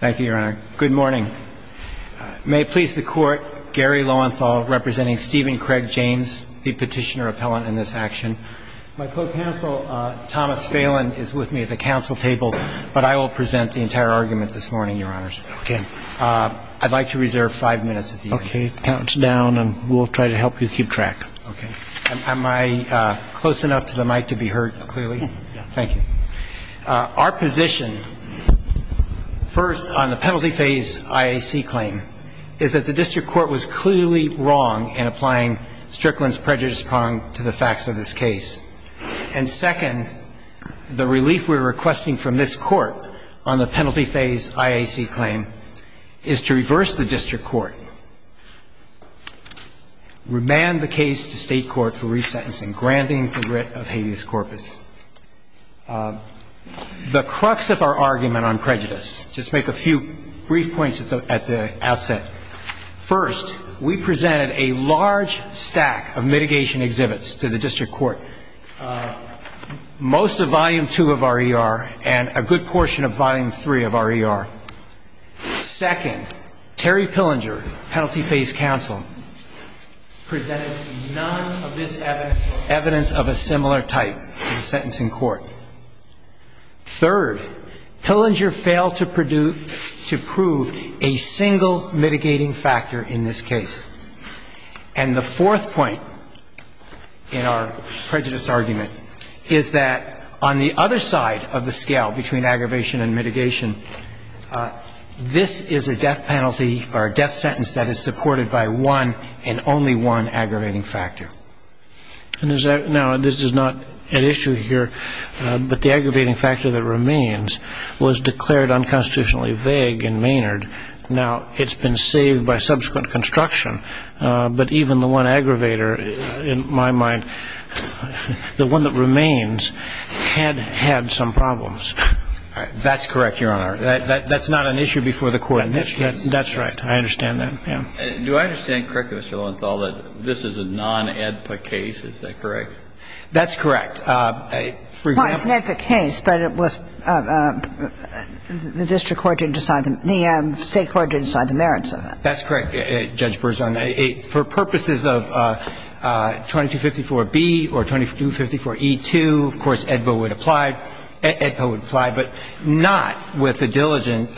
Thank you, Your Honor. Good morning. May it please the Court, Gary Lowenthal representing Stephen Craig James, the petitioner appellant in this action. My co-counsel Thomas Phelan is with me at the council table, but I will present the entire argument this morning, Your Honors. I'd like to reserve five minutes if you'd like. Okay, count down and we'll try to help you keep track. Am I close enough to the mic to be heard clearly? Thank you. Our position, first, on the penalty phase IAC claim, is that the district court was clearly wrong in applying Strickland's prejudice prong to the facts of this case. And second, the relief we're requesting from this court on the penalty phase IAC claim is to reverse the district court, remand the case to state court for resentencing, granting the writ of habeas corpus. The crux of our argument on prejudice, just make a few brief points at the outset. First, we presented a large stack of mitigation exhibits to the district court, most of volume two of RER and a good portion of volume three of RER. Second, Terry Hillinger, a similar type of sentencing court. Third, Hillinger failed to prove a single mitigating factor in this case. And the fourth point in our prejudice argument is that on the other side of the scale between aggravation and mitigation, this is a death penalty or a death sentence that is supported by one and only one aggravating factor. Now, this is not an issue here, but the aggravating factor that remains was declared unconstitutionally vague in Maynard. Now, it's been saved by subsequent construction, but even the one aggravator in my mind, the one that remains, had had some problems. That's correct, Your Honor. That's not an issue before the court. That's right. I understand that. Do I understand correctly, Mr. Lowenthal, that this is a non-AEDPA case? Is that correct? That's correct. For example... Well, it's an AEDPA case, but it was the district court to decide the merits of it. That's correct, Judge Berzon. For purposes of 2254B or 2254E2, of course, AEDPA would apply. AEDPA would apply, but not with the diligent,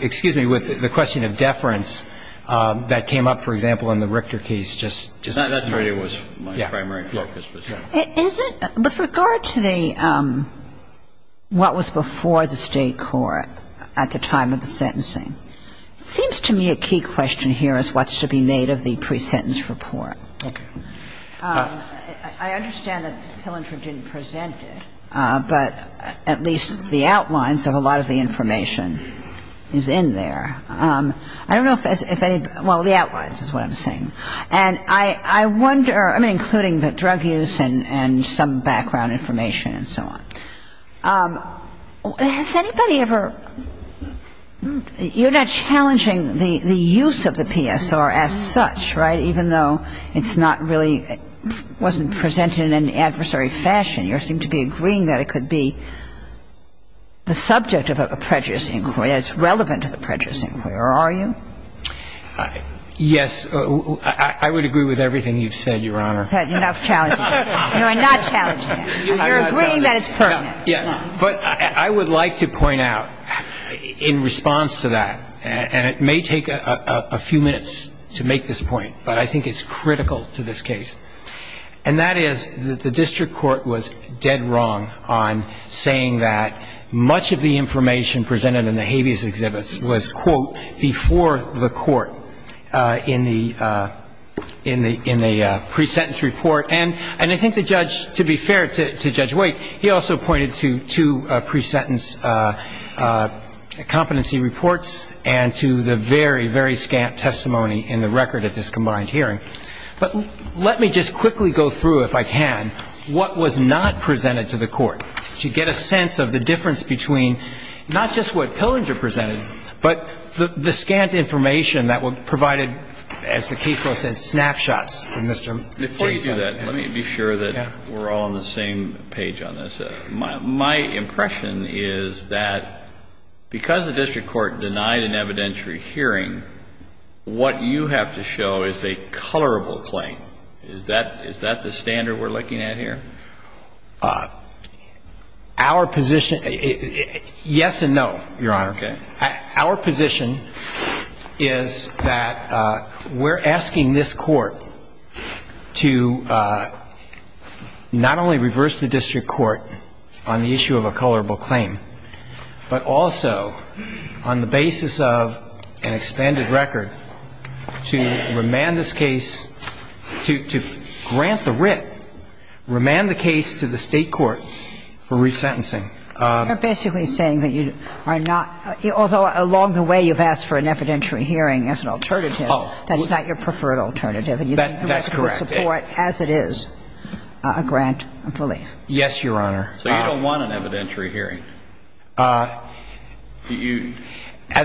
excuse me, with the question of that came up, for example, in the Richter case, just... No, that's where it was my primary focus was, yes. Is it, with regard to the, what was before the state court at the time of the sentencing, it seems to me a key question here is what should be made of the pre-sentence report. I understand that Hill and Virginia presented, but at least the outlines of a lot of the case, the outlines is what I'm saying. And I wonder, I mean, including the drug use and some background information and so on, has anybody ever, you're not challenging the use of the PSR as such, right, even though it's not really, it wasn't presented in an adversary fashion. You seem to be agreeing that it could be the subject of a prejudice inquiry, it's relevant to the prejudice inquiry, or are you? Yes, I would agree with everything you've said, Your Honor. Enough challenging. You are not challenging it. You're agreeing that it's pertinent. But I would like to point out, in response to that, and it may take a few minutes to make this point, but I think it's critical to this case, and that is that the district court was dead wrong on saying that much of the information presented in the habeas exhibits was, quote, before the court in the pre-sentence report. And I think the judge, to be fair to Judge Wake, he also pointed to two pre-sentence competency reports and to the very, very scant testimony in the record of this combined hearing. But let me just quickly go through, if I can, what was not presented to the court to get a sense of the difference between, not just what Pillinger presented, but the scant information that was provided, as the case law says, snapshots from Mr. Wake's testimony. Before you do that, let me be sure that we're all on the same page on this. My impression is that because the district court denied an evidentiary hearing, what you have to show is a colorable claim. Is that the standard we're looking at here? Our position, yes and no, Your Honor. Our position is that we're asking this court to not only reverse the district court on the issue of a colorable claim, but also, on the basis of an extended record, to remand this case, to grant the writ, remand the case to the state court for re-sentencing. You're basically saying that you are not, although along the way you've asked for an evidentiary hearing as an alternative, that's not your preferred alternative, and you think we should support, as it is, a grant of relief. Yes, Your Honor. So you don't want an evidentiary hearing? As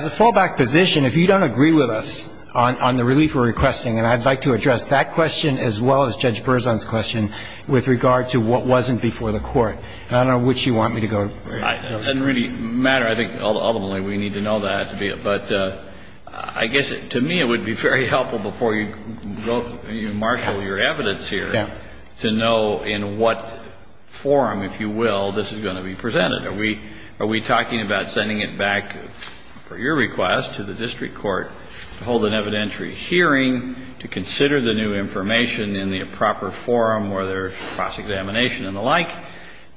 a fallback position, if you don't agree with us on the relief we're requesting, I'd like to address that question as well as Judge Berzon's question with regard to what wasn't before the court. I don't know which you want me to go to. It doesn't really matter. I think ultimately we need to know that, but I guess to me it would be very helpful before you marshal your evidence here to know in what form, if you agree, are we talking about sending it back, per your request, to the district court to hold an evidentiary hearing, to consider the new information in the proper forum, whether it's cross-examination and the like,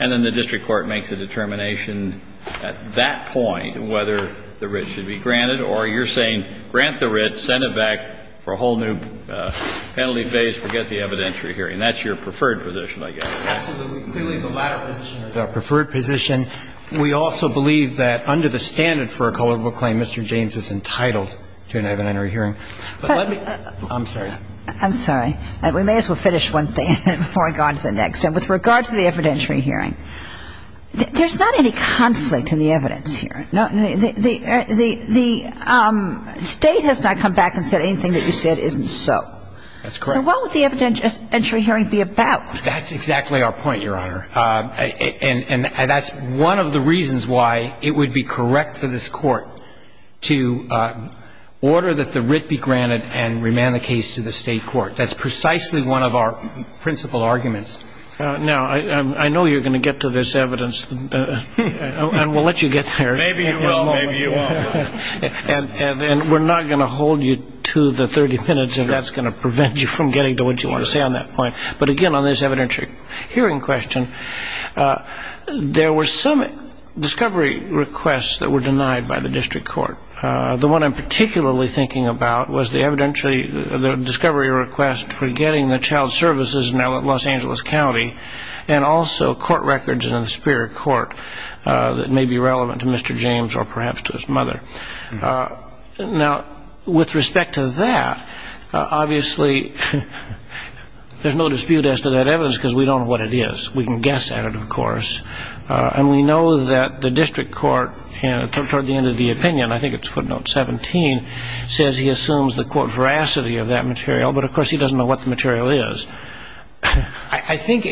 and then the district court make the determination at that point whether the writ should be granted, or you're saying, grant the writ, send it back for a whole new penalty phase, forget the evidentiary hearing. That's your preferred position, I guess. Absolutely. We believe the latter position is our preferred position. We also believe that under the standard for a culpable claim, Mr. James is entitled to an evidentiary hearing. But let me – I'm sorry. I'm sorry. We may as well finish one thing before we go on to the next. And with regard to the evidentiary hearing, there's not any conflict in the evidence here. The State has not come back and said anything that you said isn't so. That's correct. So what would the evidentiary hearing be about? That's exactly our point, Your Honor. And that's one of the reasons why it would be correct for this court to order that the writ be granted and remand the case to the State Court. That's precisely one of our principal arguments. Now, I know you're going to get to this evidence, and we'll let you get there. Maybe you will. Maybe you won't. And we're not going to hold you to the 30 minutes if that's going to prevent you from getting to what you want to say on that point. But again, on this evidentiary hearing question, there were some discovery requests that were denied by the District Court. The one I'm particularly thinking about was the evidentiary – the discovery request for getting the child services in Los Angeles County and also court records in the Superior Court that may be relevant to Mr. James or perhaps to his mother. Now, with respect to that, obviously there's no dispute as to that evidence because we don't know what it is. We can guess at it, of course. And we know that the District Court, toward the end of the opinion – I think it's footnote 17 – says he assumes the, quote, veracity of that material. But, of course, he doesn't know what the material is. I think,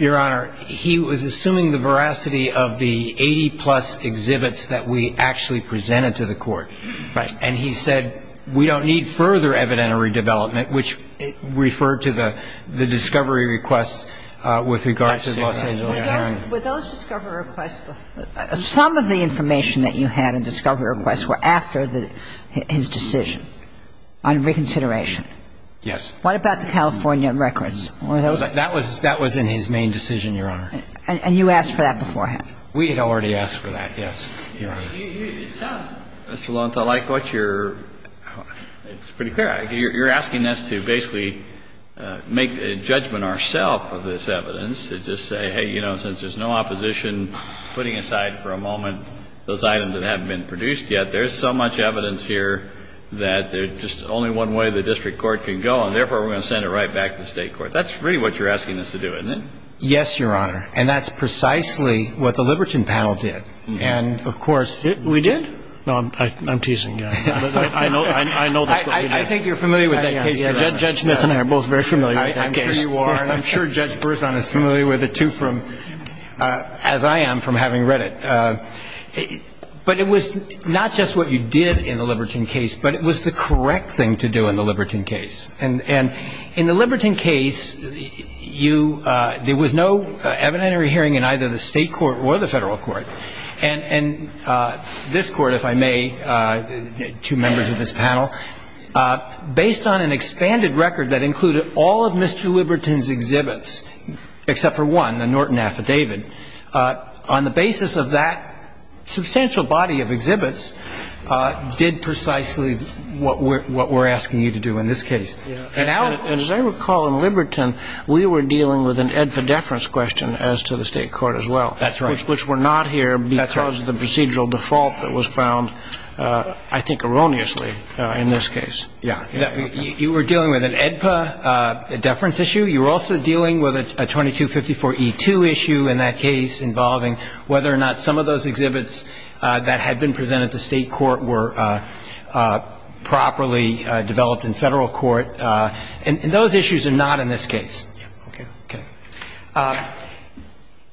Your Honor, he was assuming the veracity of the 80-plus exhibits that we actually presented to the court. Right. And he said, we don't need further evidentiary development, which referred to the discovery request with regards to Los Angeles County. But those discovery requests – some of the information that you had in discovery requests were after his decision on reconsideration. Yes. What about the California records? That was in his main decision, Your Honor. And you asked for that beforehand? We had already asked for that, yes. Mr. Lowenthal, I like what you're – it's pretty clear. You're asking us to basically make a judgment ourself of this evidence and just say, hey, you know, since there's no opposition, putting aside for a moment those items that haven't been produced yet, there's so much evidence here that there's just only one way the District Court can go, and therefore we're going to send it right back to the State Court. That's really what you're asking us to do, isn't it? Yes, Your Honor. And that's precisely what the Liberton panel did. And, of course – We did? No, I'm teasing. I know this. I think you're familiar with that case. Judge Smith and I are both very familiar with that case. I'm sure you are, and I'm sure Judge Berzon is familiar with it, too, as I am from having read it. But it was not just what you did in the Liberton case, but it was the correct thing to do in the Liberton case. And in the Liberton case, there was no evidentiary hearing in either the State Court or the Federal Court. And this Court, if I may, two members of this panel, based on an expanded record that included all of Mr. Liberton's exhibits except for one, the Norton affidavit, on the basis of that substantial body of exhibits did precisely what we're asking you to do in this case. And as I recall, in Liberton, we were dealing with an AEDPA deference question as to the State Court as well. That's right. Which were not here because of the procedural default that was found, I think erroneously in this case. You were dealing with an AEDPA deference issue. You were also dealing with a 2254E2 issue in that case involving whether or not some of those exhibits that had been presented to State Court were properly developed in Federal Court. And those issues are not in this case. Okay. Okay.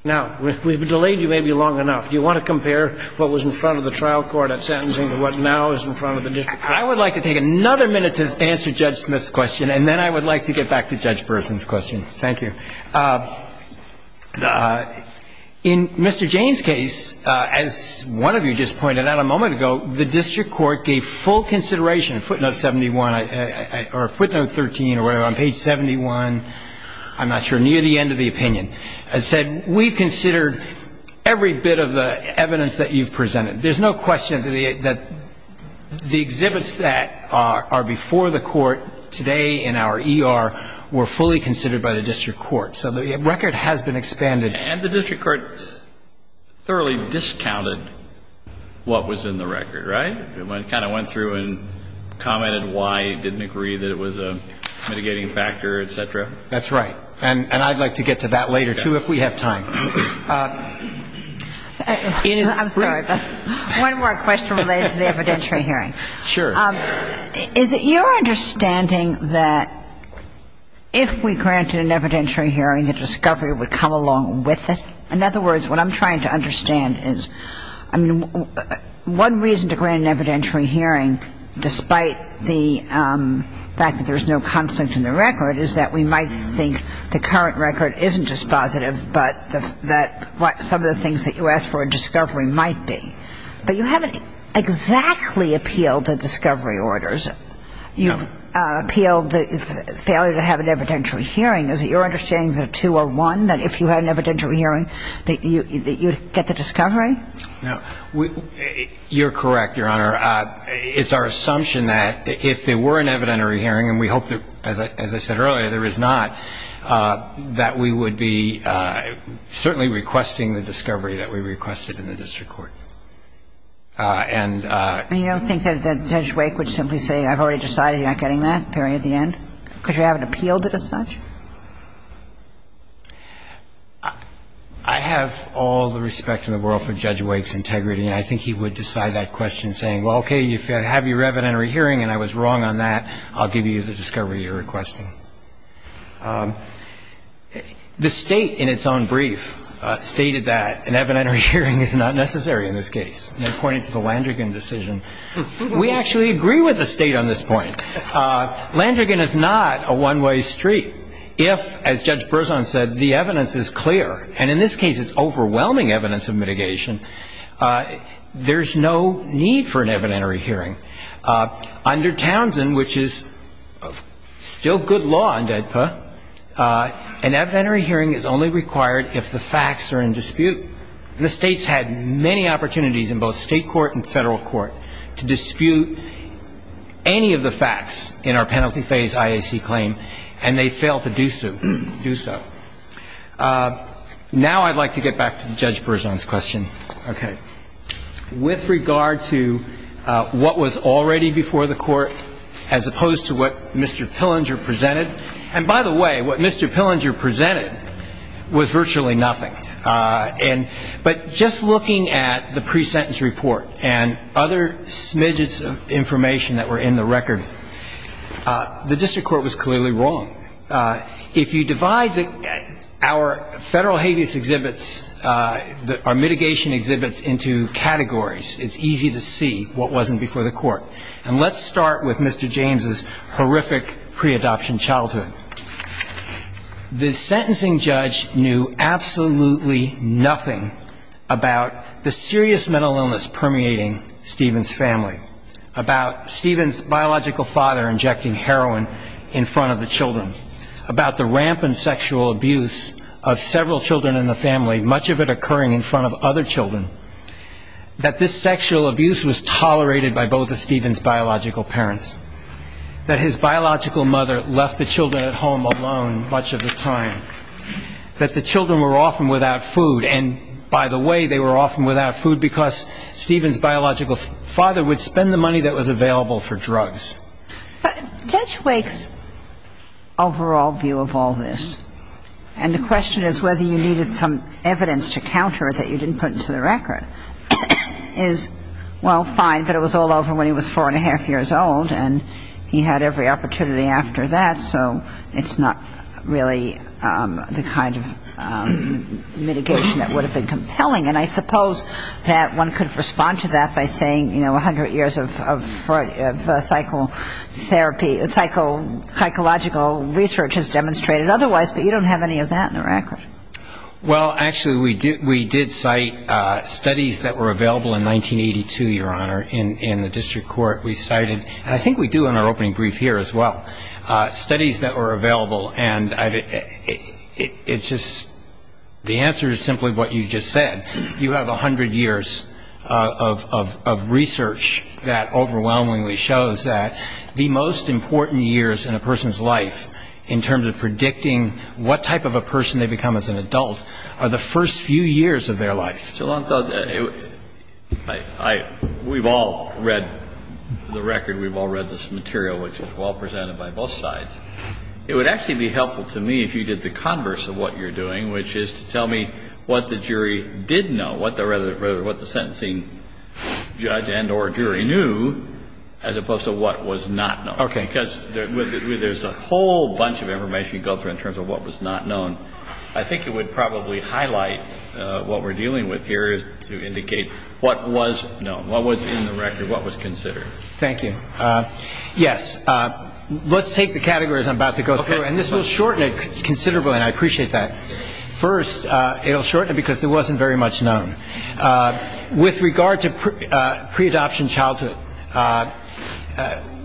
Now, we've delayed you maybe long enough. Do you want to compare what was in front of the trial court at sentencing to what now is in front of the district court? I would like to take another minute to answer Judge Smith's question, and then I would like to get back to Judge Berthin's question. Thank you. In Mr. Jayne's case, as one of you just pointed out a moment ago, the district court gave full consideration, footnote 71, or footnote 13, or whatever, on page 71, I'm not sure, near the end of the opinion, and said, we've considered every bit of the evidence that you've presented. There's no question that the exhibits that are before the court today in our ER were fully considered by the district court. So the record has been expanded. And the district court thoroughly discounted what was in the record, right? It kind of went through and commented why it didn't agree that it was a mitigating factor, et cetera. That's right. And I'd like to get to that later, too, if we have time. I'm sorry. One more question related to the evidentiary hearing. Sure. Is it your understanding that if we granted an evidentiary hearing, the discovery would come along with it? In other words, what I'm trying to understand is, I mean, one reason to grant an evidentiary hearing, despite the fact that there's no concept in the record, is that we might think the current record isn't dispositive, but that some of the things that you asked for in discovery might be. But you haven't exactly appealed the discovery orders. You appealed the failure to have an evidentiary hearing. Is it your understanding that two or one, that if you had an evidentiary hearing, that you'd get the discovery? You're correct, Your Honor. It's our assumption that if there were an evidentiary hearing, and we hope that, as I said earlier, there is not, that we would be certainly requesting the discovery that we requested in the district court. And you don't think that Judge Wake would simply say, I've already decided you're not getting that, Perry, at the end? Because you haven't appealed it as such? I have all the respect in the world for Judge Wake's integrity, and I think he would decide that question, saying, well, okay, if you have your evidentiary hearing and I was wrong on that, I'll give you the discovery you're requesting. The State, in its own brief, stated that an evidentiary hearing is not necessary in this case. And in pointing to the Landrigan decision, we actually agree with the State on this point. Landrigan is not a one-way street. If, as Judge Berzon said, the evidence is clear, and in this case it's overwhelming evidence of mitigation, there's no need for an evidentiary hearing. Under Townsend, which is still good law in DEDPA, an evidentiary hearing is only required if the facts are in dispute. And the State's had many opportunities in both state court and federal court to dispute any of the facts in our penalty phase IAC claim, and they failed to do so. Now I'd like to get back to Judge Berzon's question. Okay. With regard to what was already before the court, as opposed to what Mr. Pillinger presented, and by the way, what Mr. Pillinger presented was virtually nothing. But just looking at the pre-sentence report and other smidges of information that were in the record, the district court was clearly wrong. If you divide our federal habeas exhibits, our mitigation exhibits, into categories, it's easy to see what wasn't before the court. And let's start with Mr. James' horrific pre-adoption childhood. The sentencing judge knew absolutely nothing about the serious mental illness permeating Stephen's family, about Stephen's biological father injecting heroin in front of the children, about the rampant sexual abuse of several children in the family, much of it occurring in front of other children, that this sexual abuse was tolerated by both of Stephen's biological parents, that his biological mother left the children at home alone much of the time, that the children were often without food, and by the way, they were often without food because Stephen's biological father would spend the And the question is whether you needed some evidence to counter it that you didn't put into the record. Well, fine, but it was all over when he was four and a half years old, and he had every opportunity after that, so it's not really the kind of mitigation that would have been compelling. And I suppose that one could respond to that by saying, you know, a hundred years of psychotherapy, psychological research has demonstrated otherwise, but you don't have any of that in the record. Well, actually, we did cite studies that were available in 1982, Your Honor, in the district court. We cited, and I think we do in our opening brief here as well, studies that were available, and it's The answer is simply what you just said. You have a hundred years of research that overwhelmingly shows that the most important years in a person's life, in terms of predicting what type of a person they become as an adult, are the first few years of their life. We've all read the record. We've all read this material, which was well-presented by both sides. It would actually be helpful to me if you did the converse of what you're doing, which is to tell me what the jury did know, what the sentencing judge and or jury knew, as opposed to what was not known. Okay. Because there's a whole bunch of information you go through in terms of what was not known. I think it would probably highlight what we're dealing with here is to indicate what was known, what was in the record, what was considered. Thank you. Yes. Let's take the categories I'm about to go through, and this will shorten it considerably, and I appreciate that. First, it'll shorten it because it wasn't very much known. With regard to pre-adoption childhood,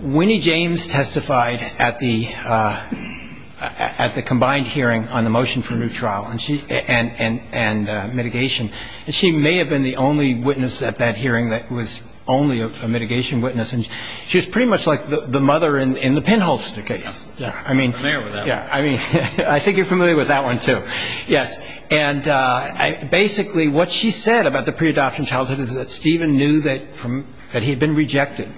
Winnie James testified at the combined hearing on the motion for a new trial and mitigation, and she may have been the only witness at that hearing that was only a mitigation witness. She was pretty much like the mother in the pinhole case. I mean, I think you're familiar with that one, too. Yes. And basically, what she said about the pre-adoption childhood is that Stephen knew that he had been rejected.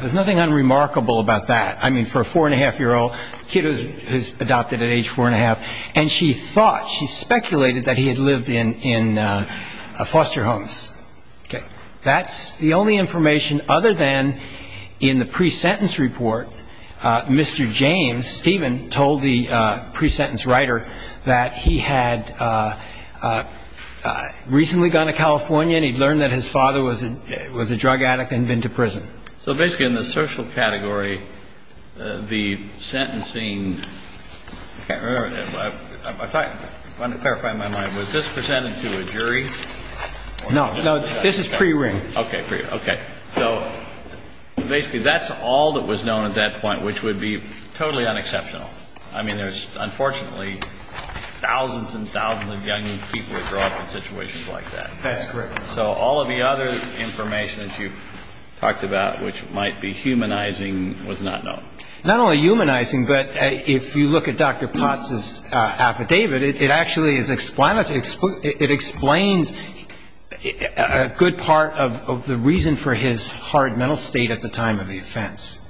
There's nothing unremarkable about that. I mean, for a four-and-a-half-year-old kid who was adopted at age four-and-a-half, and she thought, she speculated that he had lived in foster homes. That's the only information other than in the pre-sentence report, Mr. James, Stephen, told the pre-sentence writer that he had recently gone to California and he'd learned that his father was a drug addict and been to prison. So basically, in the social media, that's all that was known at that point, which would be totally unexceptional. I mean, there's unfortunately thousands and thousands of young people who grow up in situations like that. That's correct. So all of the other information that you've talked about, which might be humanizing, was not known. Not only humanizing, but if you look at Dr. Potts' affidavit, it actually explains a good part of the reason for his hard mental state at the time of the offense.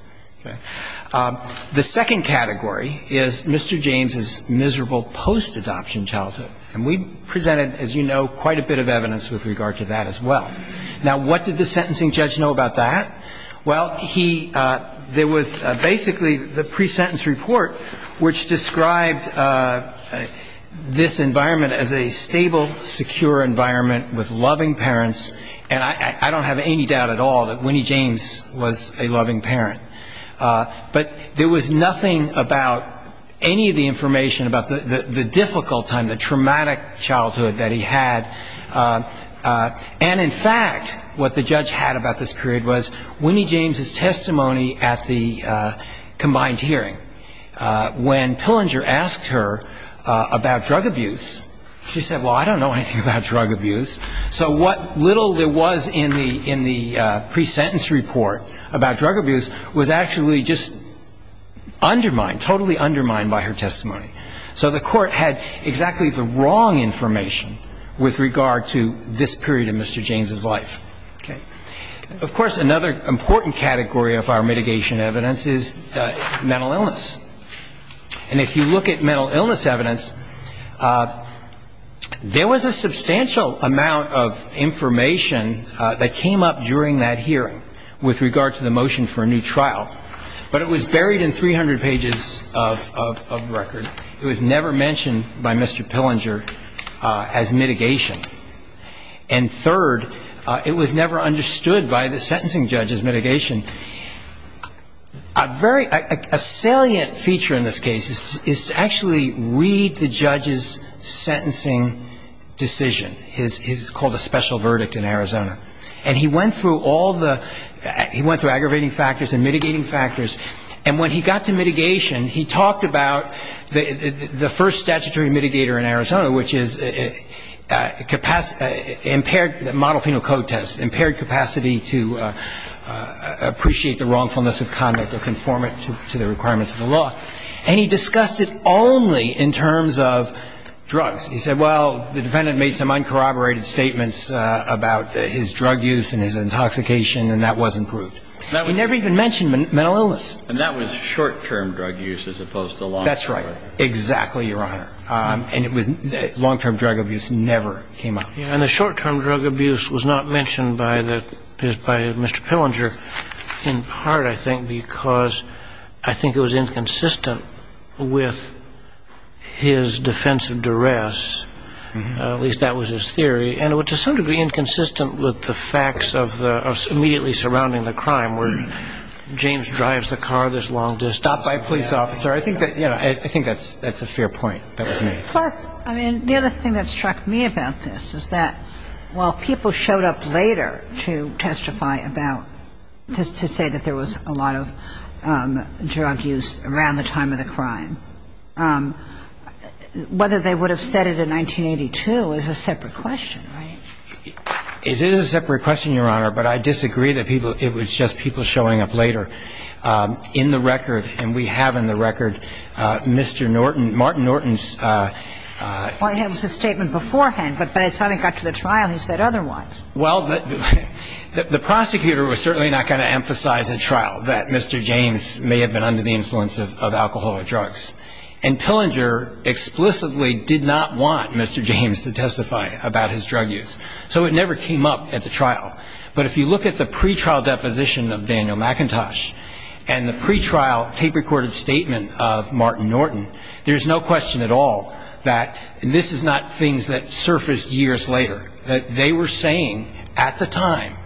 The second category is Mr. James' miserable post-adoption childhood. And we presented, as you know, quite a bit of evidence with regard to that as well. Now, what did the sentencing judge know about that? Well, there was basically the pre-sentence report, which described this environment as a stable, secure environment with loving parents. And I don't have any doubt at all that Winnie James was a loving parent. But there was nothing about any of the information about the difficult time, the traumatic childhood that he had. And in fact, what the judge had about this period was Winnie James' testimony at the combined hearing. When Pillinger asked her about drug abuse, she said, well, I don't know anything about drug abuse. So what little there was in the pre-sentence report about drug abuse was actually just undermined, totally undermined by her testimony. So the court had exactly the wrong information with regard to this Another important category of our mitigation evidence is mental illness. And if you look at mental illness evidence, there was a substantial amount of information that came up during that hearing with regard to the motion for a new trial. But it was buried in 300 pages of record. It was never mentioned by Mr. Pillinger as mitigation. And third, it was never understood by the sentencing judge as mitigation. A salient feature in this case is to actually read the judge's sentencing decision. It's called a special verdict in Arizona. And he went through all the, he went through aggravating factors and mitigating factors. And when he got to mitigation, he talked about the first statutory mitigator in Arizona, which is the model penal code test, impaired capacity to appreciate the wrongfulness of conduct or conform it to the requirements of the law. And he discussed it only in terms of drugs. He said, well, the defendant made some uncorroborated statements about his drug use and his intoxication and that wasn't proved. He never even mentioned mental illness. And that was short-term drug use as opposed to long-term. Exactly right. And long-term drug abuse never came up. And the short-term drug abuse was not mentioned by Mr. Pillinger in part, I think, because I think it was inconsistent with his defense of duress. At least that was his theory. And it was to some degree inconsistent with the facts of immediately surrounding the crime where James drives the car this long to stop by a police officer. I think that's a fair point. Plus, I mean, the other thing that struck me about this is that while people showed up later to testify about, to say that there was a lot of drug use around the time of the crime, whether they would have said it in 1982 is a separate question, right? It is a separate question, Your Honor, but I disagree that it was just people showing up later. In the record, and we have in the record, Mr. Norton, Martin Norton's Well, it was a statement beforehand, but by the time it got to the trial, he said otherwise. Well, the prosecutor was certainly not going to emphasize in trial that Mr. James may have been under the influence of alcohol or drugs. And Pillinger explicitly did not want Mr. James to testify about his drug use. So it never came up at the trial. But if you look at the pretrial deposition of Daniel McIntosh and the pretrial tape-recorded statement of Martin Norton, there's no question at all that this is not things that surfaced years later, that they were saying at the time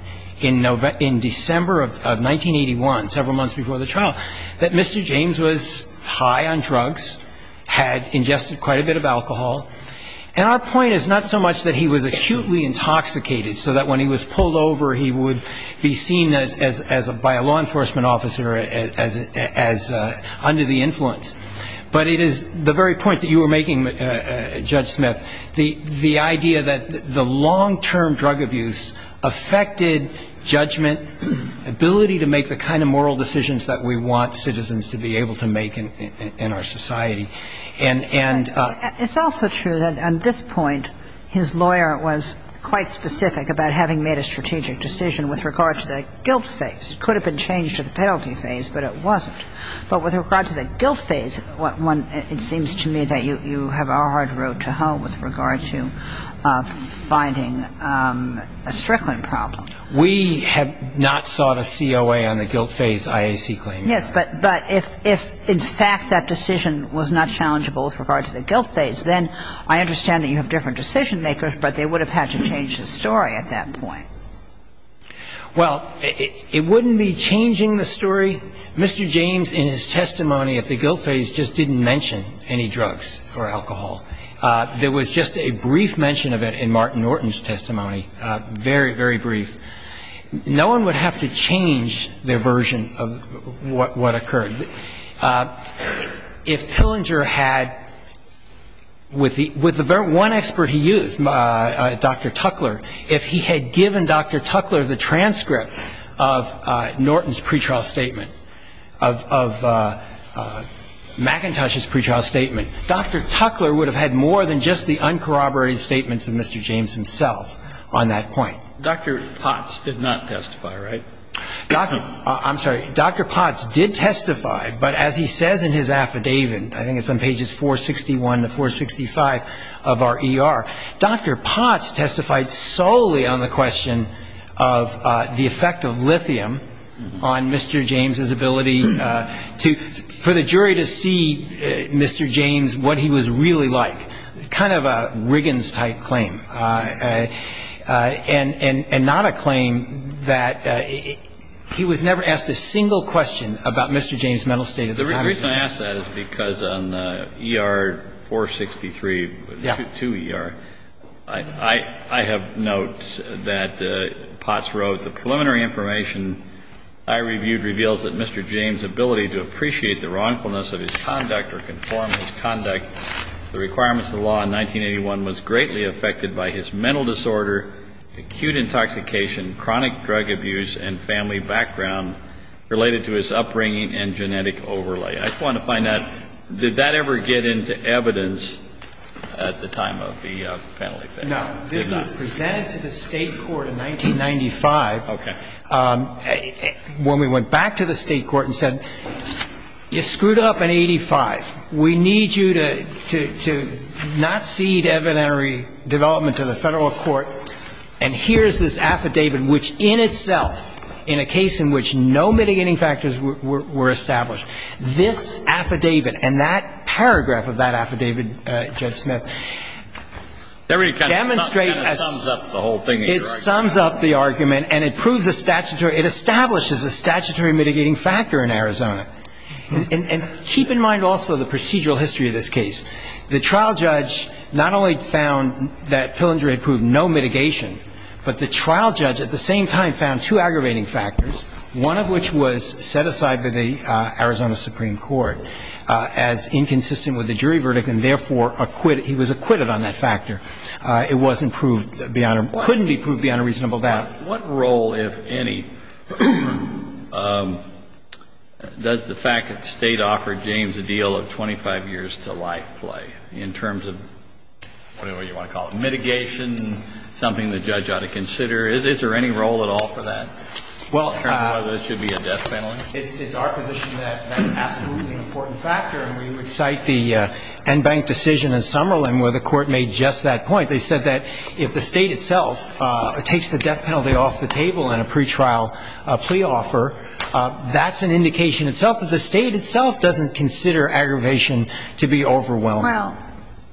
in December of 1981, several months before the The point is not so much that he was acutely intoxicated so that when he was pulled over, he would be seen by a law enforcement officer as under the influence. But it is the very point that you were making, Judge Smith, the idea that the long-term drug abuse affected judgment, ability to make the kind of moral decisions that we want citizens to be able to make in our society. It's also true that at this point, his lawyer was quite specific about having made a strategic decision with regard to the guilt phase. It could have been changed to the penalty phase, but it wasn't. But with regard to the guilt phase, it seems to me that you have a hard road to hoe with regard to finding a strickling problem. We have not sought a COA on the guilt phase IAC claim. Yes, but if in fact that decision was not challengeable with regard to the guilt phase, then I understand that you have different decision makers, but they would have had to change the story at that point. Well, it wouldn't be changing the story. Mr. James, in his testimony of the guilt phase, just didn't mention any drugs or alcohol. There was just a brief mention of it in Martin No one would have to change their version of what occurred. If Tillinger had, with the one expert he used, Dr. Tuckler, if he had given Dr. Tuckler the transcript of Norton's pretrial statement, of McIntosh's pretrial statement, Dr. Tuckler would have had more than just the uncorroborated statements of Mr. James himself on that point. Dr. Potts did not testify, right? I'm sorry. Dr. Potts did testify, but as he says in his affidavit, I think it's on pages 461 to 465 of our ER, Dr. Potts testified solely on the question of the effect of lithium on Mr. James's ability for the jury to see Mr. James, what he was really like. Kind of a Riggins-type claim, and not a claim that he was never asked a single question about Mr. James's mental state at the time. The reason I ask that is because on ER 463 to ER, I have notes that Potts wrote, the preliminary information I reviewed reveals that Mr. James's ability to appreciate the wrongfulness of his conduct or conform to his conduct, the requirements of law in 1981, was greatly affected by his mental disorder, acute intoxication, chronic drug abuse, and family background related to his upbringing and genetic overlay. I just wanted to find out, did that ever get into evidence at the time of the penalty? No. This was presented to the state court in 1995. When we went back to the state court and said, you screwed up in 85. We need you to not cede evidentiary development to the federal court, and here's this affidavit, which in itself, in a case in which no mitigating factors were established, this affidavit and that paragraph of that affidavit, Judge Smith, it sums up the argument and it establishes a statutory mitigating factor in Arizona. Keep in mind also the procedural history of this case. The trial judge not only found that filandry proved no mitigation, but the trial judge at the same time found two aggravating factors, one of which was set aside by the Arizona Supreme Court as inconsistent with the jury verdict, and therefore, he was acquitted on that factor. It couldn't be proved beyond a reasonable doubt. What role, if any, does the fact that the state offered James a deal of 25 years to life play, in terms of whatever you want to call it, mitigation, something the judge ought to consider? Is there any role at all for that, in terms of whether there should be a death penalty? It's our position that death penalty is an important factor, and we would cite the Enbank decision in Summerlin where the court made just that point. They said that if the state itself takes the death penalty off the table in a pretrial plea offer, that's an indication itself that the state itself doesn't consider aggravation to be overwhelming. Well,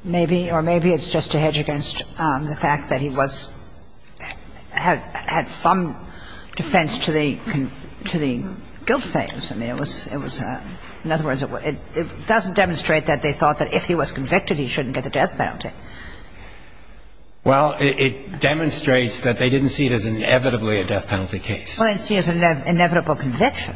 maybe, or maybe it's just to hedge against the fact that he was, had some defense to the guilt phase. I mean, it was, in other words, it doesn't demonstrate that they thought that if he was convicted, he shouldn't get a death penalty. Well, it demonstrates that they didn't see it as inevitably a death penalty case. Well, they see it as inevitable conviction.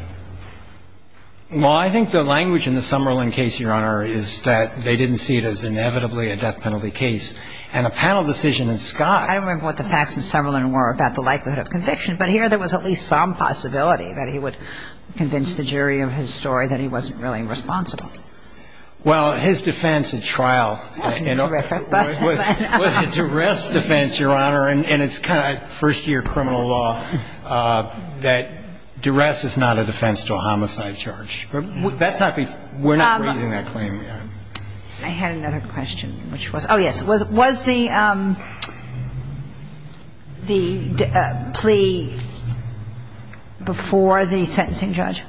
Well, I think the language in the Summerlin case, Your Honor, is that they didn't see it as inevitably a death penalty case, and a panel decision in Scott. I don't remember what the facts in Summerlin were about the likelihood of conviction, but here there was at least some possibility that he would convince the jury of his story that he wasn't really responsible. Well, his defense at trial was a duress defense, Your Honor, and it's kind of like first-year criminal law that duress is not a defense to a homicide charge. But that's not, we're not raising that claim yet. I had another question, which was, oh, yes. Was the plea before the sentencing judge?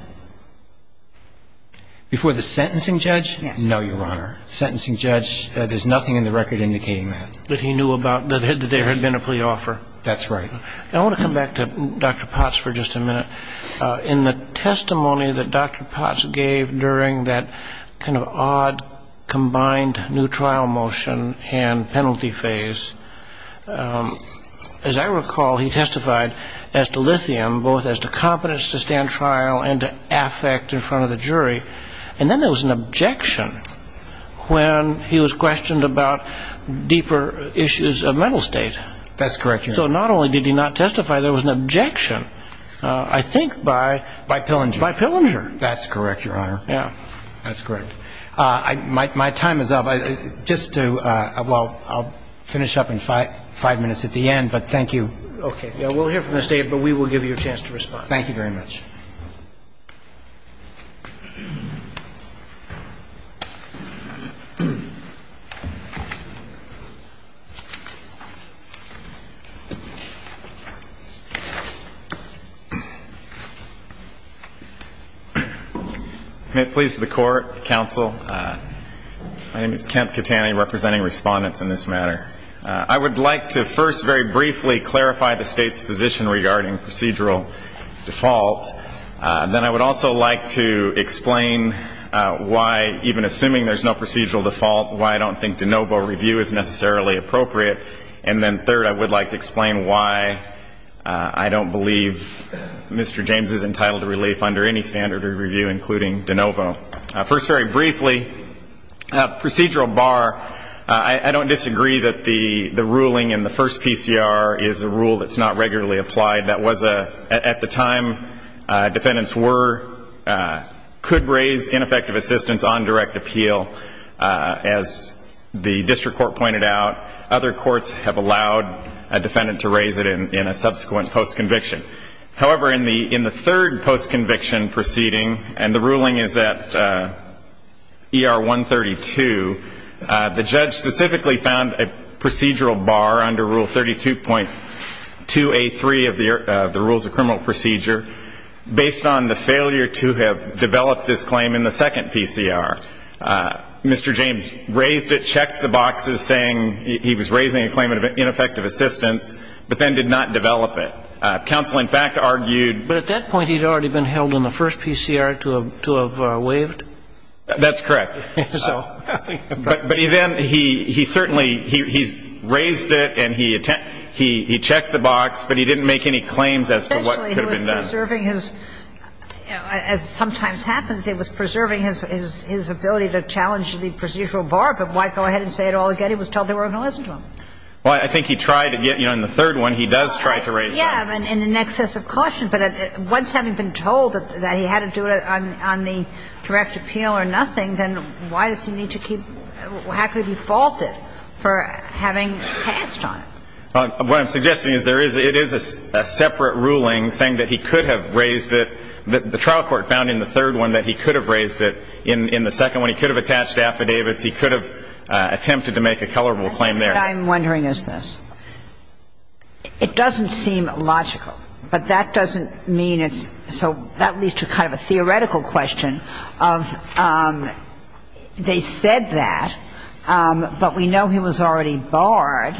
Before the sentencing judge? Yes. No, Your Honor. Sentencing judge, there's nothing in the record indicating that. That he knew about, that there had been a plea offer. That's right. I want to come back to Dr. Potts for just a minute. In the testimony that Dr. Potts gave during that kind of odd combined new trial motion and penalty phase, as I recall, he testified as to lithium, both as to competence to stand trial and to affect in front of the jury. And then there was an objection when he was questioned about deeper issues of mental state. That's correct, Your Honor. So not only did he not testify, there was an objection, I think, by Pillinger. By Pillinger. That's correct, Your Honor. Yeah. That's correct. My time is up. Just to, well, I'll finish up in five minutes at the end, but thank you. Okay. We'll hear from the state, but we will give you a chance to respond. Thank you very much. May it please the Court, Counsel, my name is Kemp Katani, representing respondents in this matter. I would like to first very briefly clarify the state's position regarding procedural default. Then I would also like to explain why, even assuming there's no procedural default, why I don't think de novo review is necessarily appropriate. And then, third, I would like to explain why I don't believe Mr. James is entitled to relief under any standard of review, including de novo. First, very briefly, procedural bar. I don't disagree that the ruling in the first PCR is a rule that's not regularly applied. That was a, at the time defendants were, could raise ineffective assistance on direct appeal. As the district court pointed out, other courts have allowed a defendant to raise it in a subsequent post-conviction. However, in the third post-conviction proceeding, and the ruling is at ER 132, the judge specifically found a procedural bar under Rule 32.2A3 of the Rules of Criminal Procedure, based on the failure to have developed this claim in the second PCR. Mr. James raised it, checked the boxes, saying he was raising a claim of ineffective assistance, but then did not develop it. Counsel, in fact, argued- But at that point he'd already been held on the first PCR to have waived? That's correct. But he then, he certainly, he raised it and he checked the box, but he didn't make any claims as to what could have been done. Essentially he was preserving his, as sometimes happens, he was preserving his ability to challenge the procedural bar, but why go ahead and say it all again? He was told there were no issues. Well, I think he tried to get, you know, in the third one he does try to raise it. Yeah, in an excess of caution. But once having been told that he had to do it on the direct appeal or nothing, then why does he need to keep, have to be faulted for having passed on it? What I'm suggesting is there is, it is a separate ruling saying that he could have raised it. The trial court found in the third one that he could have raised it. In the second one he could have attached affidavits. He could have attempted to make a tolerable claim there. What I'm wondering is this. It doesn't seem logical, but that doesn't mean it's, so that leads to kind of a theoretical question of they said that, but we know he was already barred.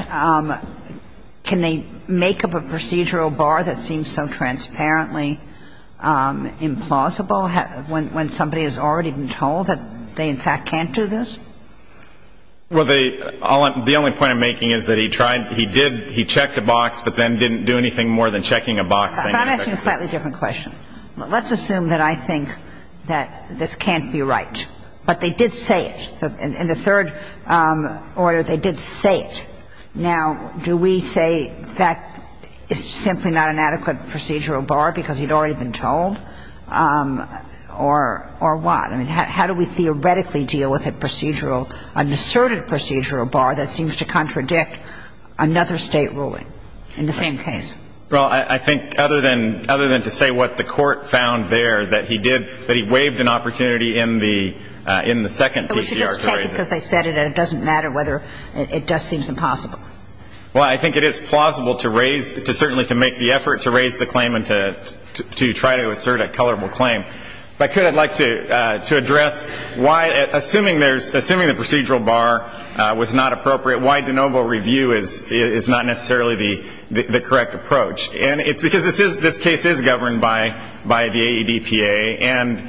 Can they make up a procedural bar that seems so transparently implausible when somebody has already been told that they in fact can't do this? Well, the only point I'm making is that he tried, he did, he checked a box, but then didn't do anything more than checking a box. I'm asking a slightly different question. Let's assume that I think that this can't be right. But they did say it. In the third order they did say it. Now, do we say that it's simply not an adequate procedural bar because he'd already been told? Or what? I mean, how do we theoretically deal with a procedural, an asserted procedural bar that seems to contradict another state ruling in the same case? Well, I think other than to say what the court found there, that he did, that he waived an opportunity in the second PCR survey. But we should just check it because I said it, and it doesn't matter whether it does seem impossible. Well, I think it is plausible to raise, certainly to make the effort to raise the claim and to try to assert a colorable claim. But I'd like to address why, assuming the procedural bar was not appropriate, why de novo review is not necessarily the correct approach. And it's because this case is governed by the AEDPA, and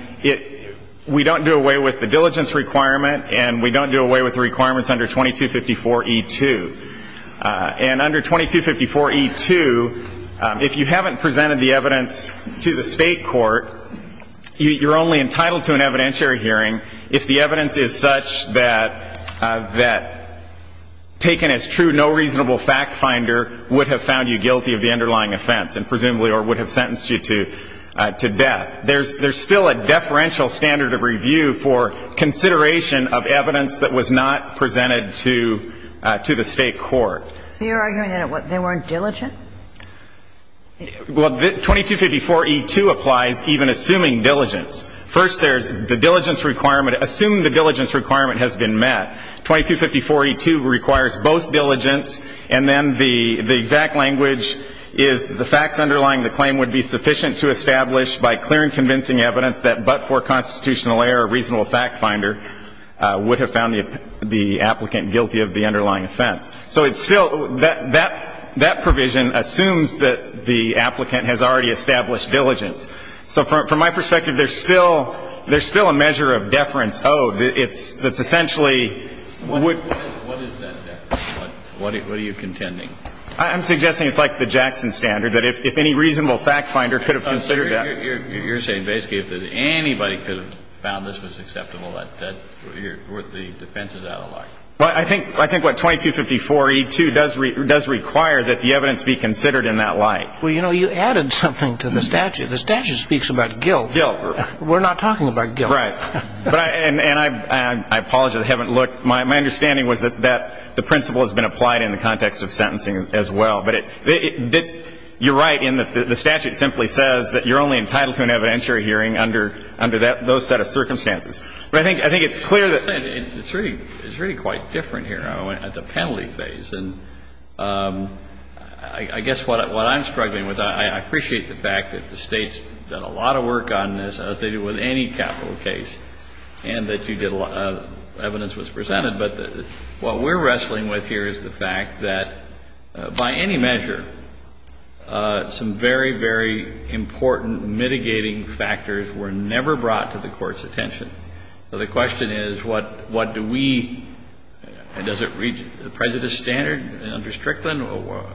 we don't do away with the diligence requirement, and we don't do away with the requirements under 2254E2. And under 2254E2, if you haven't presented the evidence to the state court, you're only entitled to an evidentiary hearing if the evidence is such that taken as true, no reasonable fact finder would have found you guilty of the underlying offense and presumably would have sentenced you to death. There's still a deferential standard of review for consideration of evidence that was not presented to the state court. So you're arguing that they weren't diligent? Well, 2254E2 applies even assuming diligence. First, there's the diligence requirement. Assuming the diligence requirement has been met, 2254E2 requires both diligence and then the exact language is the facts underlying the claim would be sufficient to establish by clear and convincing evidence that but for constitutional error, a reasonable fact finder would have found the applicant guilty of the underlying offense. So it's still that provision assumes that the applicant has already established diligence. So from my perspective, there's still a measure of deference owed What is that? What are you contending? I'm suggesting it's like the Jackson standard, that if any reasonable fact finder could have considered that. You're saying basically if anybody could have found this was acceptable, that's worth the defense of that a lot. I think what 2254E2 does require that the evidence be considered in that light. Well, you know, you added something to the statute. The statute speaks about guilt. We're not talking about guilt. Right. And I apologize, I haven't looked. My understanding was that the principle has been applied in the context of sentencing as well. But you're right. The statute simply says that you're only entitled to an evidentiary hearing under those set of circumstances. But I think it's clear that... It's really quite different here at the penalty phase. I guess what I'm struggling with, I appreciate the fact that the state's done a lot of work on this, as they do with any capital case, and that evidence was presented, but what we're wrestling with here is the fact that by any measure, some very, very important mitigating factors were never brought to the Court's attention. So the question is, what do we... Does it reach the prejudice standard under Strickland?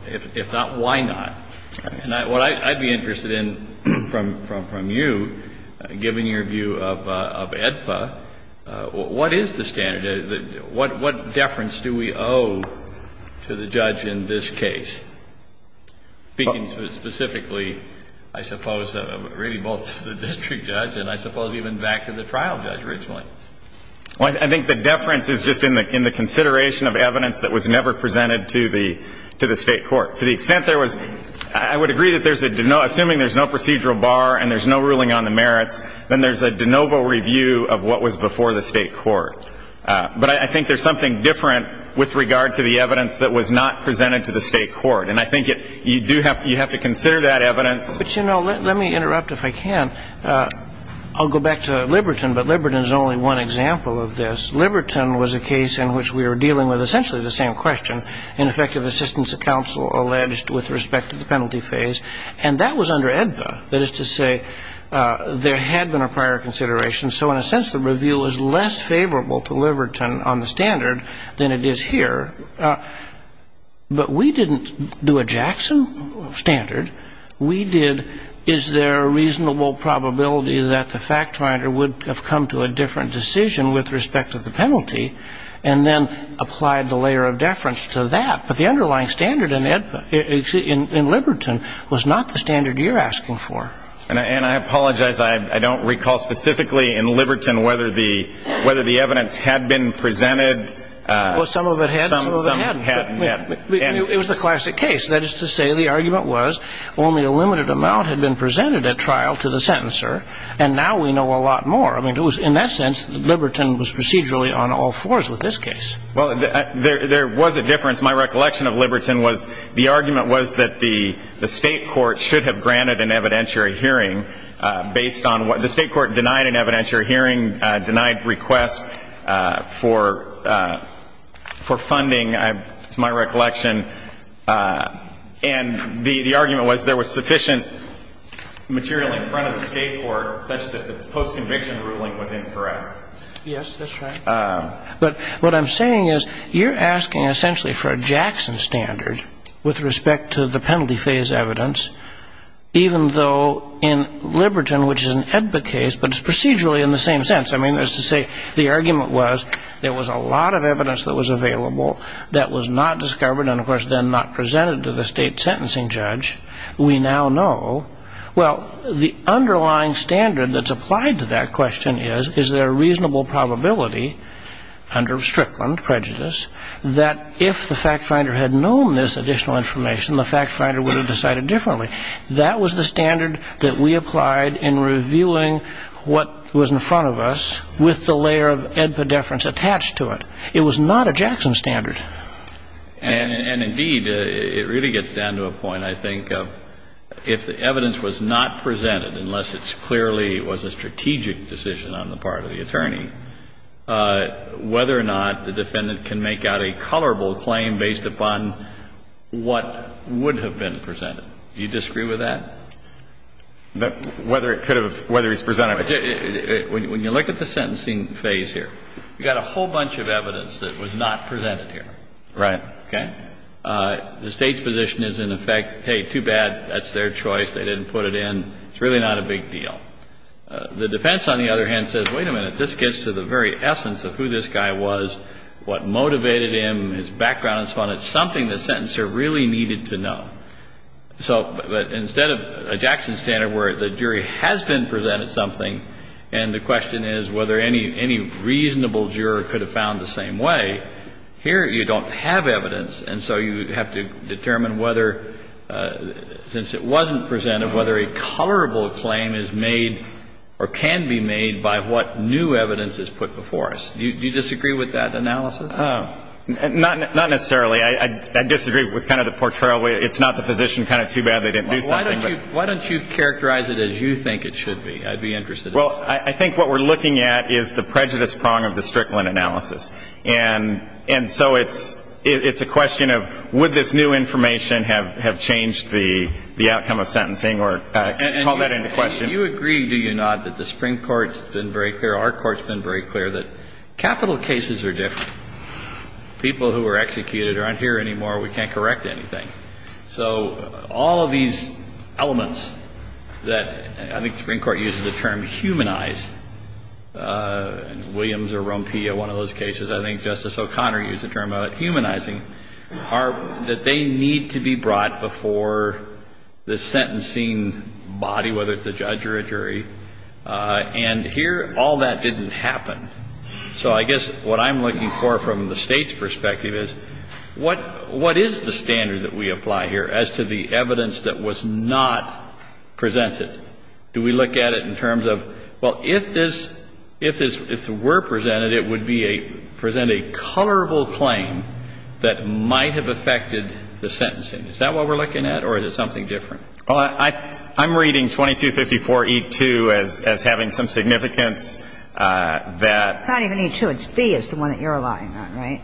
If not, why not? And what I'd be interested in from you, given your view of AEDPA, what is the standard? What deference do we owe to the judge in this case? Speaking specifically, I suppose, really both to the district judge and I suppose even back to the trial judge originally. I think the deference is just in the consideration of evidence that was never presented to the state court. To the extent there was... I would agree that assuming there's no procedural bar and there's no ruling on the merits, then there's a de novo review of what was before the state court. But I think there's something different with regard to the evidence that was not presented to the state court, and I think you have to consider that evidence. But, you know, let me interrupt if I can. I'll go back to Liberton, but Liberton is only one example of this. Liberton was a case in which we were dealing with essentially the same question, ineffective assistance of counsel alleged with respect to the penalty phase, and that was under AEDPA. That is to say, there had been a prior consideration, so in a sense the review was less favorable to Liberton on the standard than it is here. But we didn't do a Jackson standard. We did, is there a reasonable probability that the fact writer would have come to a different decision with respect to the penalty, and then applied the layer of deference to that. But the underlying standard in Liberton was not the standard you're asking for. And I apologize. I don't recall specifically in Liberton whether the evidence had been presented. Well, some of it had. Some of it hadn't. It was a classic case. That is to say, the argument was only a limited amount had been presented at trial to the sentencer, and now we know a lot more. I mean, in that sense, Liberton was procedurally on all fours with this case. Well, there was a difference. My recollection of Liberton was the argument was that the state court should have granted an evidentiary hearing based on what the state court denied an evidentiary hearing, denied requests for funding. That's my recollection. And the argument was there was sufficient material in front of the state court. That's the post-conviction ruling was incorrect. Yes, that's right. But what I'm saying is you're asking essentially for a Jackson standard with respect to the penalty phase evidence, even though in Liberton, which is an EDBA case, but it's procedurally in the same sense. I mean, that's to say the argument was there was a lot of evidence that was available that was not discovered and, of course, then not presented to the state sentencing judge. We now know. Well, the underlying standard that's applied to that question is, is there a reasonable probability under Strickland prejudice that if the fact finder had known this additional information, the fact finder would have decided differently. And that was the standard that we applied in reviewing what was in front of us with the layer of EDBA deference attached to it. It was not a Jackson standard. And, indeed, it really gets down to a point, I think, of if the evidence was not presented, unless it clearly was a strategic decision on the part of the attorney, whether or not the defendant can make out a colorable claim based upon what would have been presented. Do you disagree with that? Whether it's presented. When you look at the sentencing phase here, you've got a whole bunch of evidence that was not presented here. Right. Okay? The state's position is, in effect, hey, too bad. That's their choice. They didn't put it in. It's really not a big deal. The defense, on the other hand, says, wait a minute. This gets to the very essence of who this guy was, what motivated him, his background. It's something the sentencer really needed to know. But instead of a Jackson standard where the jury has been presented something and the question is whether any reasonable juror could have found the same way, here you don't have evidence, and so you have to determine whether, since it wasn't presented, whether a colorable claim is made or can be made by what new evidence is put before us. Do you disagree with that analysis? Not necessarily. I disagree with kind of the portrayal where it's not the position, kind of too bad they didn't do something. Why don't you characterize it as you think it should be? I'd be interested in that. Well, I think what we're looking at is the prejudice prong of the Strickland analysis. And so it's a question of would this new information have changed the outcome of sentencing or call that into question. And do you agree, do you not, that the Supreme Court's been very clear, our court's been very clear, that capital cases are different. People who are executed aren't here anymore. We can't correct anything. So all of these elements that I think the Supreme Court uses the term humanized, Williams or Rompia, one of those cases, I think Justice O'Connor used the term humanizing, are that they need to be brought before the sentencing body, whether it's a judge or a jury. And here all that didn't happen. So I guess what I'm looking for from the state's perspective is what is the standard that we apply here as to the evidence that was not presented? Do we look at it in terms of, well, if it were presented, it would present a colorable claim that might have affected the sentencing. Is that what we're looking at or is it something different? Well, I'm reading 2254E2 as having some significance that- It's not even E2, it's B is the one that you're allying on, right?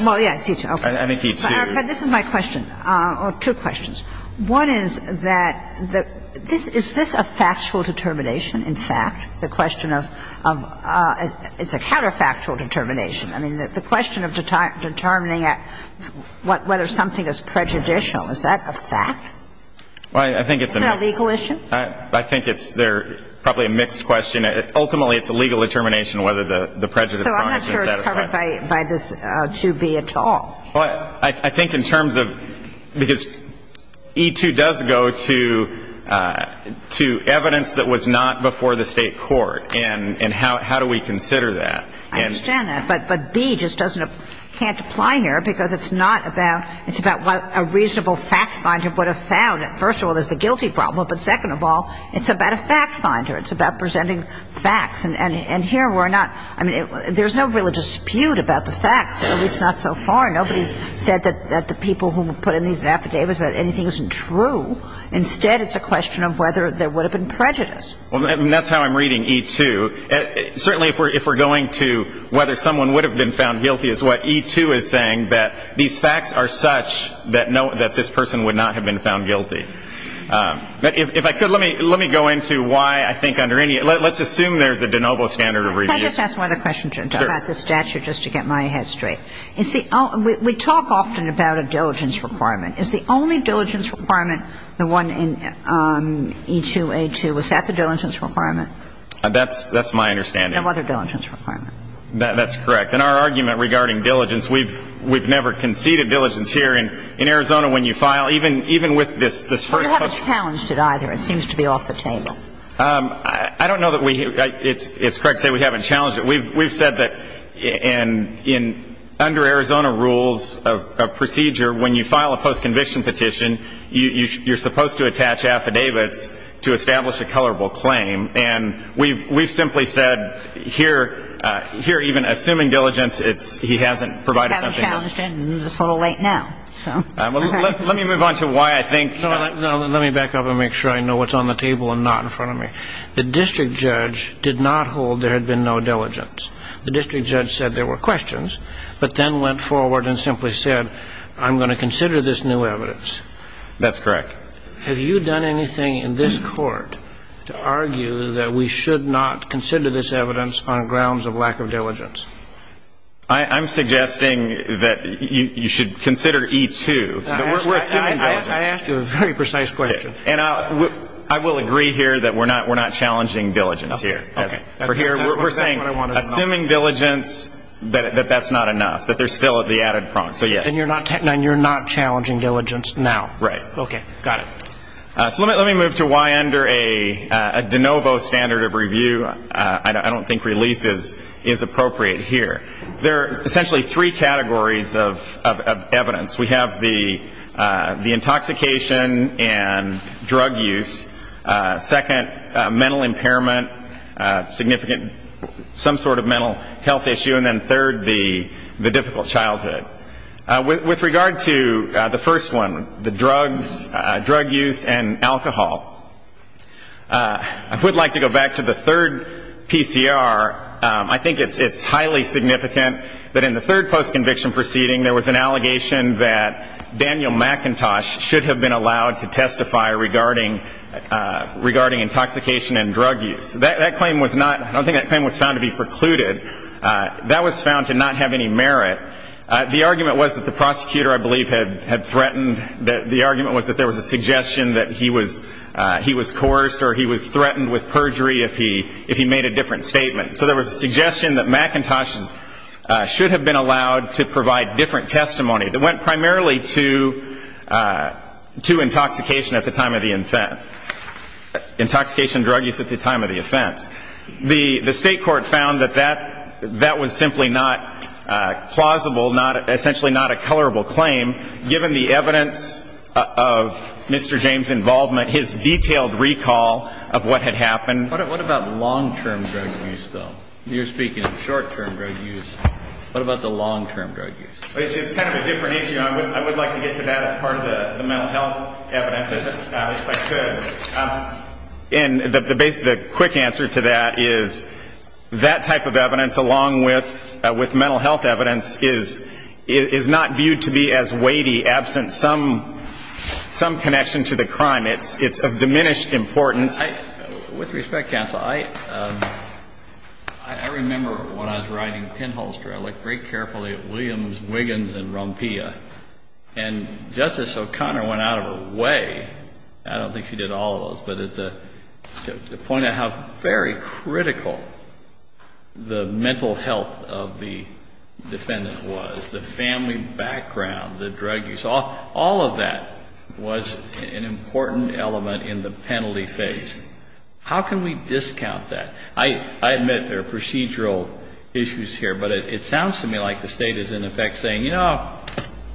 Well, yeah, it's E2. But this is my question, or two questions. One is that is this a factual determination, in fact? The question of it's a counterfactual determination. I mean, the question of determining whether something is prejudicial, is that a fact? Well, I think it's- Is that a legal issue? I think it's probably a mixed question. Ultimately, it's a legal determination whether the prejudice- So I'm not sure it's covered by this 2B at all. Well, I think in terms of- Because E2 does go to evidence that was not before the state court, and how do we consider that? I understand that, but B just can't apply here because it's not about- It's about what a reasonable fact finder would have found. First of all, there's the guilty problem, but second of all, it's about a fact finder. It's about presenting facts, and here we're not- He said that the people who put in these affidavits that anything isn't true. Instead, it's a question of whether there would have been prejudice. That's how I'm reading E2. Certainly, if we're going to whether someone would have been found guilty, it's what E2 is saying, that these facts are such that this person would not have been found guilty. If I could, let me go into why I think under any- Let's assume there's a de novo standard of review. Can I just ask one other question, Jim, about the statute, just to get my head straight? We talk often about a diligence requirement. Is the only diligence requirement the one in E2A2? Was that the diligence requirement? That's my understanding. No other diligence requirement. That's correct. In our argument regarding diligence, we've never conceded diligence here. In Arizona, when you file, even with this- We haven't challenged it either. It seems to be off the table. I don't know that we- It's correct to say we haven't challenged it. We've said that under Arizona rules of procedure, when you file a post-conviction petition, you're supposed to attach affidavits to establish a colorable claim. And we've simply said here, even assuming diligence, he hasn't provided something else. We haven't challenged it, and it's a little late now. Let me move on to why I think- Let me back up and make sure I know what's on the table and not in front of me. The district judge did not hold there had been no diligence. The district judge said there were questions, but then went forward and simply said, I'm going to consider this new evidence. That's correct. Have you done anything in this court to argue that we should not consider this evidence on grounds of lack of diligence? I'm suggesting that you should consider E2, but we're assuming diligence. I asked you a very precise question. I will agree here that we're not challenging diligence here. We're saying, assuming diligence, that that's not enough, that there's still the added prompt. And you're not challenging diligence now? Right. Okay, got it. Let me move to why under a de novo standard of review, I don't think relief is appropriate here. There are essentially three categories of evidence. We have the intoxication and drug use. Second, mental impairment, some sort of mental health issue. And then third, the difficult childhood. With regard to the first one, the drug use and alcohol, I would like to go back to the third PCR. I think it's highly significant that in the third post-conviction proceeding, there was an allegation that Daniel McIntosh should have been allowed to testify regarding intoxication and drug use. I don't think that claim was found to be precluded. That was found to not have any merit. The argument was that the prosecutor, I believe, had threatened. The argument was that there was a suggestion that he was coerced or he was threatened with perjury if he made a different statement. So there was a suggestion that McIntosh should have been allowed to provide different testimony that went primarily to intoxication at the time of the offense, intoxication and drug use at the time of the offense. The state court found that that was simply not plausible, essentially not a colorable claim, given the evidence of Mr. James' involvement, his detailed recall of what had happened. What about long-term drug use, though? You're speaking of short-term drug use. What about the long-term drug use? It's kind of a different issue. I would like to get to that as part of the mental health evidence, if I could. And the quick answer to that is that type of evidence, along with mental health evidence, is not viewed to be as weighty, absent some connection to the crime. It's of diminished importance. With respect, counsel, I remember when I was riding a pinholster, I looked very carefully at Williams, Wiggins, and Rompilla, and Justice O'Connor went out of her way. To point out how very critical the mental health of the defendant was, the family background, the drug use, all of that was an important element in the penalty phase. How can we discount that? I admit there are procedural issues here, but it sounds to me like the state is, in effect, saying, you know,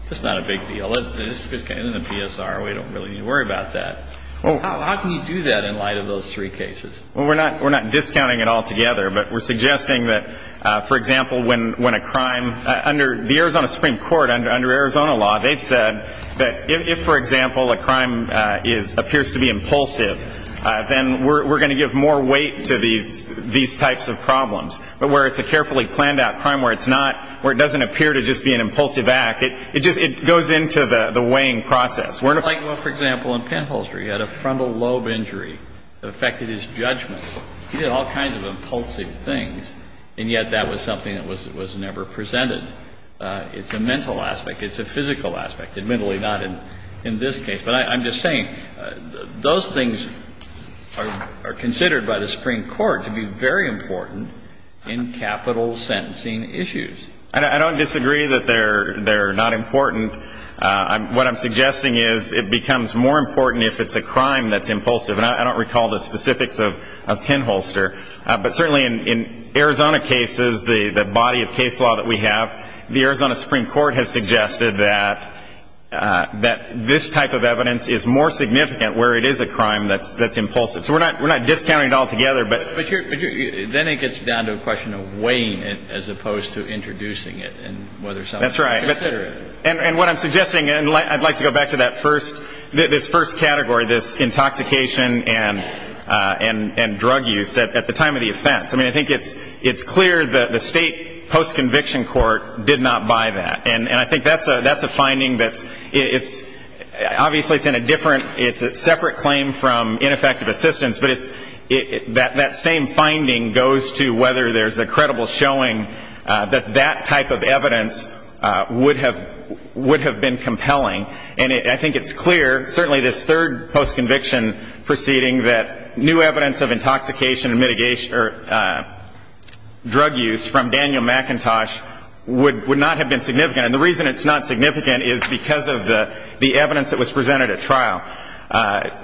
it's not a big deal. It's in the PSR. We don't really need to worry about that. How can you do that in light of those three cases? Well, we're not discounting it altogether, but we're suggesting that, for example, when a crime, under the Arizona Supreme Court, under Arizona law, they've said that if, for example, a crime appears to be impulsive, then we're going to give more weight to these types of problems. But where it's a carefully planned out crime where it's not, where it doesn't appear to just be an impulsive act, it goes into the weighing process. For example, in penholstery, he had a frontal lobe injury that affected his judgment. He did all kinds of impulsive things, and yet that was something that was never presented. It's a mental aspect. It's a physical aspect. Admittedly, not in this case. But I'm just saying, those things are considered by the Supreme Court to be very important in capital sentencing issues. I don't disagree that they're not important. What I'm suggesting is it becomes more important if it's a crime that's impulsive. And I don't recall the specifics of penholster. But certainly in Arizona cases, the body of case law that we have, the Arizona Supreme Court has suggested that this type of evidence is more significant where it is a crime that's impulsive. So we're not discounting it altogether. But then it gets down to a question of weighing it as opposed to introducing it. That's right. And what I'm suggesting, and I'd like to go back to that first, this first category, this intoxication and drug use at the time of the offense. I mean, I think it's clear that the state post-conviction court did not buy that. And I think that's a finding that it's, obviously it's in a different, it's a separate claim from ineffective assistance. But that same finding goes to whether there's a credible showing that that type of evidence would have been compelling. And I think it's clear, certainly this third post-conviction proceeding, that new evidence of intoxication or drug use from Daniel McIntosh would not have been significant. And the reason it's not significant is because of the evidence that was presented at trial.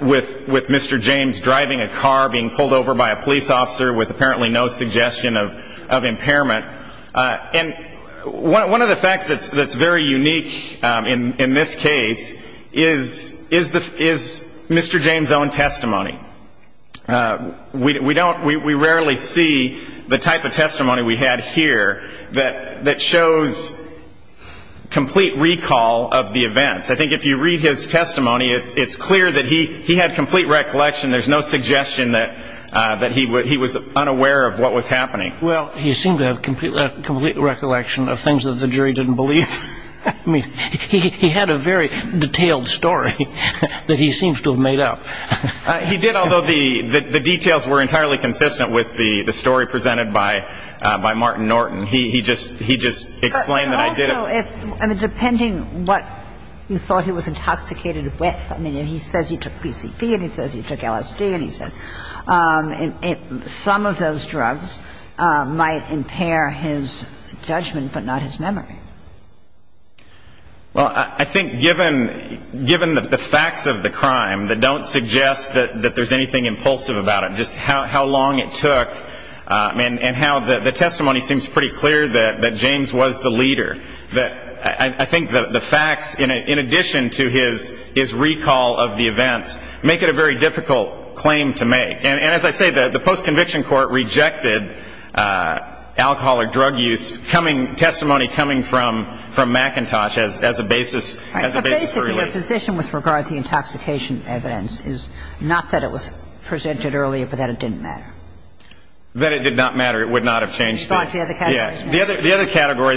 With Mr. James driving a car, being pulled over by a police officer with apparently no suggestion of impairment. And one of the facts that's very unique in this case is Mr. James' own testimony. We don't, we rarely see the type of testimony we have here that shows complete recall of the event. I think if you read his testimony, it's clear that he had complete recollection. There's no suggestion that he was unaware of what was happening. Well, he seemed to have complete recollection of things that the jury didn't believe. I mean, he had a very detailed story that he seems to have made up. He did, although the details were entirely consistent with the story presented by Martin Norton. He just explained that I did it. I mean, depending what you thought he was intoxicated with. I mean, he says he took PCP and he says he took LSD and he says. Some of those drugs might impair his judgment but not his memory. Well, I think given the facts of the crime that don't suggest that there's anything impulsive about it, just how long it took and how the testimony seems pretty clear that James was the leader. I think the facts, in addition to his recall of the event, make it a very difficult claim to make. And as I say, the post-conviction court rejected alcohol or drug use testimony coming from McIntosh as a basis. The position with regard to the intoxication evidence is not that it was presented earlier but that it didn't matter. That it did not matter, it would not have changed things. The other category,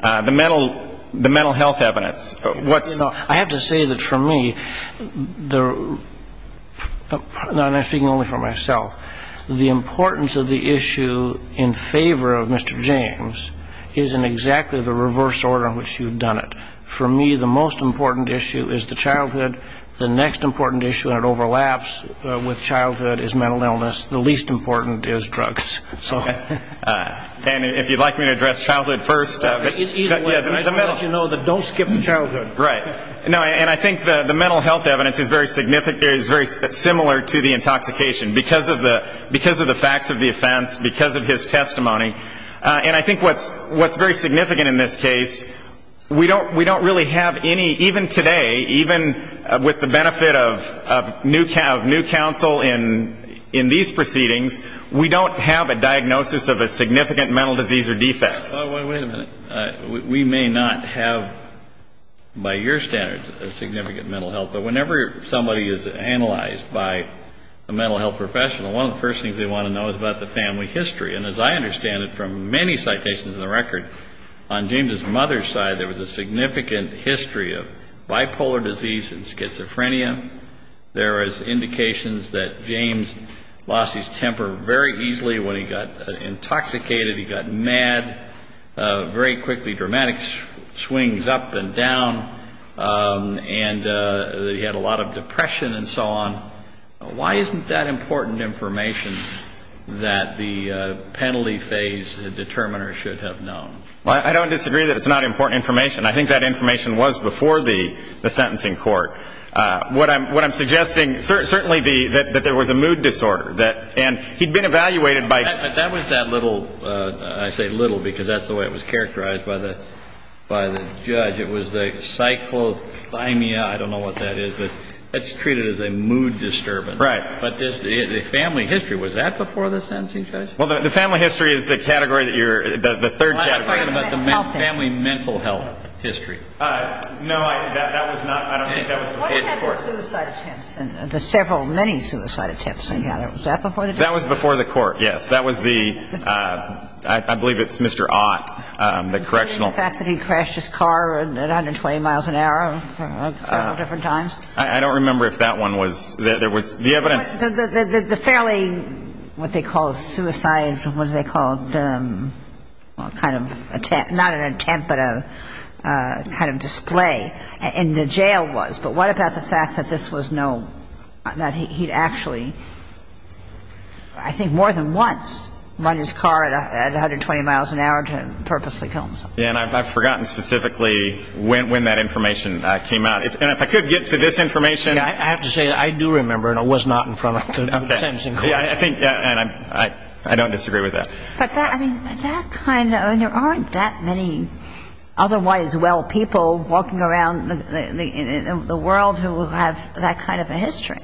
the mental health evidence. I have to say that for me, and I'm speaking only for myself, the importance of the issue in favor of Mr. James is in exactly the reverse order in which you've done it. For me, the most important issue is the childhood. The next important issue that overlaps with childhood is mental illness. The least important is drugs. And if you'd like me to address childhood first. Just to let you know that don't skip the childhood. Right. And I think the mental health evidence is very similar to the intoxication because of the facts of the offense, because of his testimony. And I think what's very significant in this case, we don't really have any, even today, even with the benefit of new counsel in these proceedings, we don't have a diagnosis of a significant mental disease or defect. Wait a minute. We may not have, by your standards, a significant mental health. But whenever somebody is analyzed by a mental health professional, one of the first things they want to know is about the family history. And as I understand it from many citations in the record, on James's mother's side, there was a significant history of bipolar disease and schizophrenia. There are indications that James lost his temper very easily when he got intoxicated. He got mad very quickly, dramatic swings up and down. And he had a lot of depression and so on. Why isn't that important information that the penalty phase, the determiner should have known? I don't disagree that it's not important information. I think that information was before the sentencing court. What I'm suggesting, certainly that there was a mood disorder. And he'd been evaluated by- That was that little, I say little, because that's the way it was characterized by the judge. It was the psychothymia, I don't know what that is. It's treated as a mood disturbance. Right. But the family history, was that before the sentencing court? Well, the family history is the category that you're- the third category. I'm talking about the family mental health history. No, that was not- I don't think that was before the court. What about the suicide attempt? The several, many suicide attempts together, was that before the court? That was before the court, yes. That was the- I believe it's Mr. Ott, the correctional- What about the fact that he crashed his car at 120 miles an hour at several different times? I don't remember if that one was- The family, what they call suicides, what they call kind of- not an attempt, but a kind of display. And the jail was. But what about the fact that this was no- that he actually, I think more than once, run his car at 120 miles an hour to purposely kill himself? Yeah, and I've forgotten specifically when that information came out. And if I could get to this information- I have to say, I do remember it was not in front of the sentencing court. Yeah, I think- and I don't disagree with that. But that kind of- there aren't that many otherwise well people walking around the world who have that kind of a history.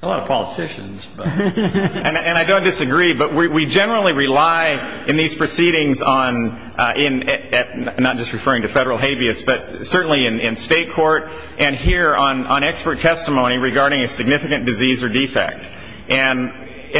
A lot of politicians. And I don't disagree, but we generally rely in these proceedings on- not just referring to federal habeas, but certainly in state court and here on expert testimony regarding a significant disease or defect. And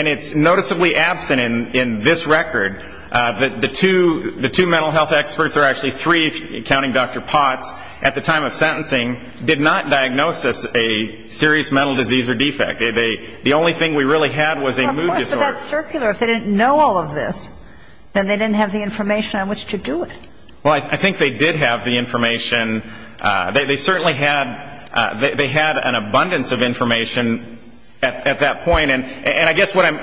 it's noticeably absent in this record, but the two mental health experts, or actually three, counting Dr. Potts, at the time of sentencing did not diagnose this as a serious mental disease or defect. The only thing we really had was a mood disorder. But that's circular. If they didn't know all of this, then they didn't have the information on which to do it. Well, I think they did have the information. They certainly had an abundance of information at that point. And I guess what I'm-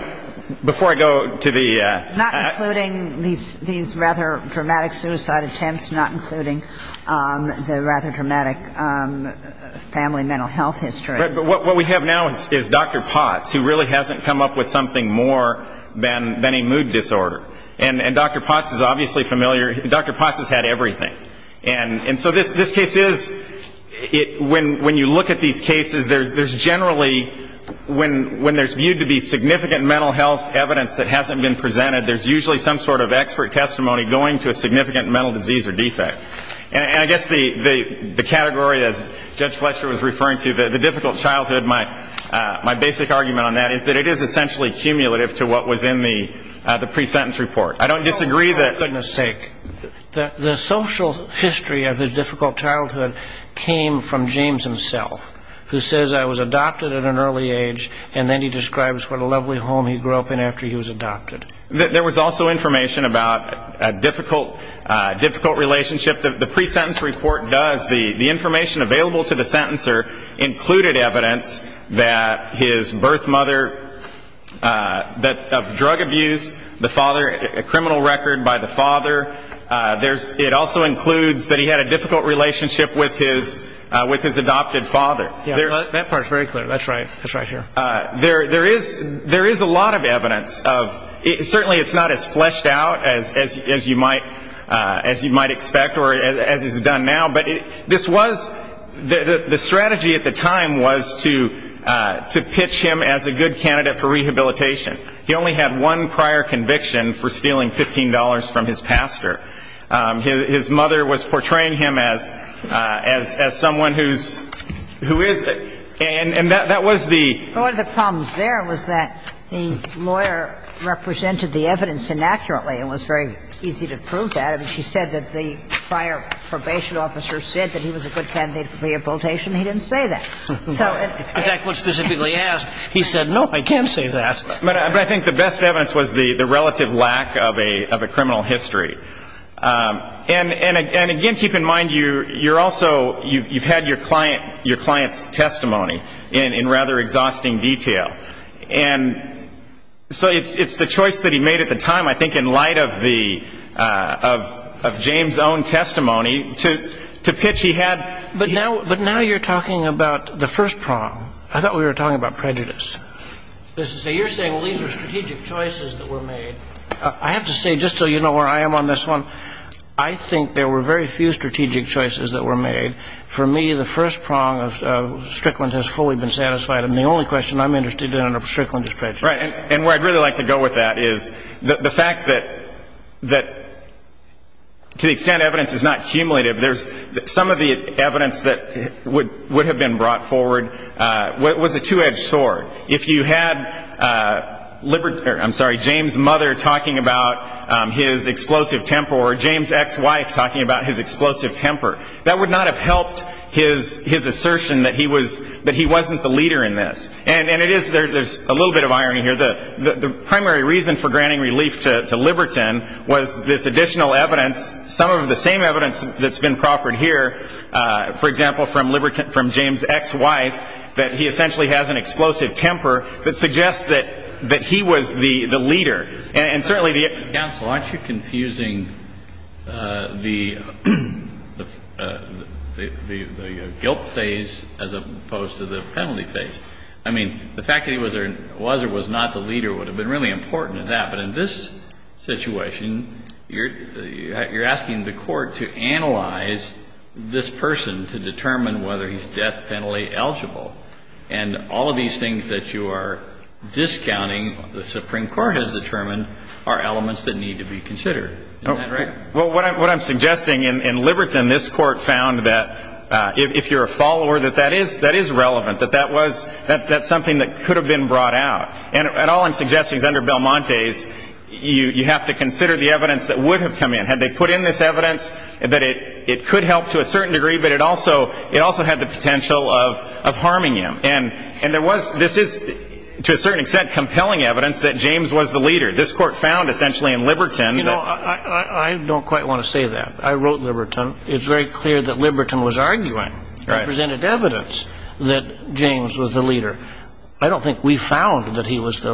before I go to the- Not including these rather dramatic suicide attempts, not including the rather dramatic family mental health history. But what we have now is Dr. Potts, who really hasn't come up with something more than a mood disorder. And Dr. Potts is obviously familiar- Dr. Potts has had everything. And so this case is- when you look at these cases, there's generally- when there's viewed to be significant mental health evidence that hasn't been presented, there's usually some sort of expert testimony going to a significant mental disease or defect. And I guess the category that Judge Fletcher was referring to, the difficult childhood, my basic argument on that is that it is essentially cumulative to what was in the pre-sentence report. I don't disagree that- For goodness sake. The social history of the difficult childhood came from James himself, who says, I was adopted at an early age, and then he describes what a lovely home he grew up in after he was adopted. There was also information about a difficult relationship that the pre-sentence report does. The information available to the sentencer included evidence that his birth mother- that of drug abuse, the father- a criminal record by the father. It also includes that he had a difficult relationship with his adopted father. That part's very clear. That's right. There is a lot of evidence. Certainly it's not as fleshed out as you might expect or as is done now, but this was- the strategy at the time was to pitch him as a good candidate for rehabilitation. He only had one prior conviction for stealing $15 from his pastor. His mother was portraying him as someone who is- One of the problems there was that the lawyer represented the evidence inaccurately. It was very easy to prove that. She said that the prior probation officer said that he was a good candidate for rehabilitation. He didn't say that. In fact, when specifically asked, he said, no, I can't say that. But I think the best evidence was the relative lack of a criminal history. And, again, keep in mind you're also- you've had your client's testimony in rather exhausting detail. And so it's the choice that he made at the time, I think, in light of James' own testimony to pitch he had- But now you're talking about the first problem. I thought we were talking about prejudice. You're saying these were strategic choices that were made. I have to say, just so you know where I am on this one, I think there were very few strategic choices that were made. For me, the first prong of Strickland has fully been satisfied. And the only question I'm interested in under Strickland is prejudice. And where I'd really like to go with that is the fact that to the extent evidence is not cumulative, some of the evidence that would have been brought forward was a two-edged sword. If you had James' mother talking about his explosive temper or James' ex-wife talking about his explosive temper, that would not have helped his assertion that he wasn't the leader in this. And there's a little bit of irony here. The primary reason for granting relief to Liberton was this additional evidence, some of the same evidence that's been proffered here, for example, from James' ex-wife, that he essentially has an explosive temper that suggests that he was the leader. And certainly the ex-counsel, aren't you confusing the guilt phase as opposed to the penalty phase? I mean, the fact that he was or was not the leader would have been really important in that. But in this situation, you're asking the court to analyze this person to determine whether he's death penalty eligible. And all of these things that you are discounting, the Supreme Court has determined, are elements that need to be considered. Well, what I'm suggesting in Liberton, this court found that if you're a follower, that that is relevant, that that's something that could have been brought out. And all I'm suggesting is under Belmonte, you have to consider the evidence that would have come in. Had they put in this evidence, that it could help to a certain degree, but it also had the potential of harming you. And this is, to a certain extent, compelling evidence that James was the leader. This court found, essentially, in Liberton. You know, I don't quite want to say that. I wrote Liberton. It's very clear that Liberton was arguing representative evidence that James was the leader. I don't think we found that he was the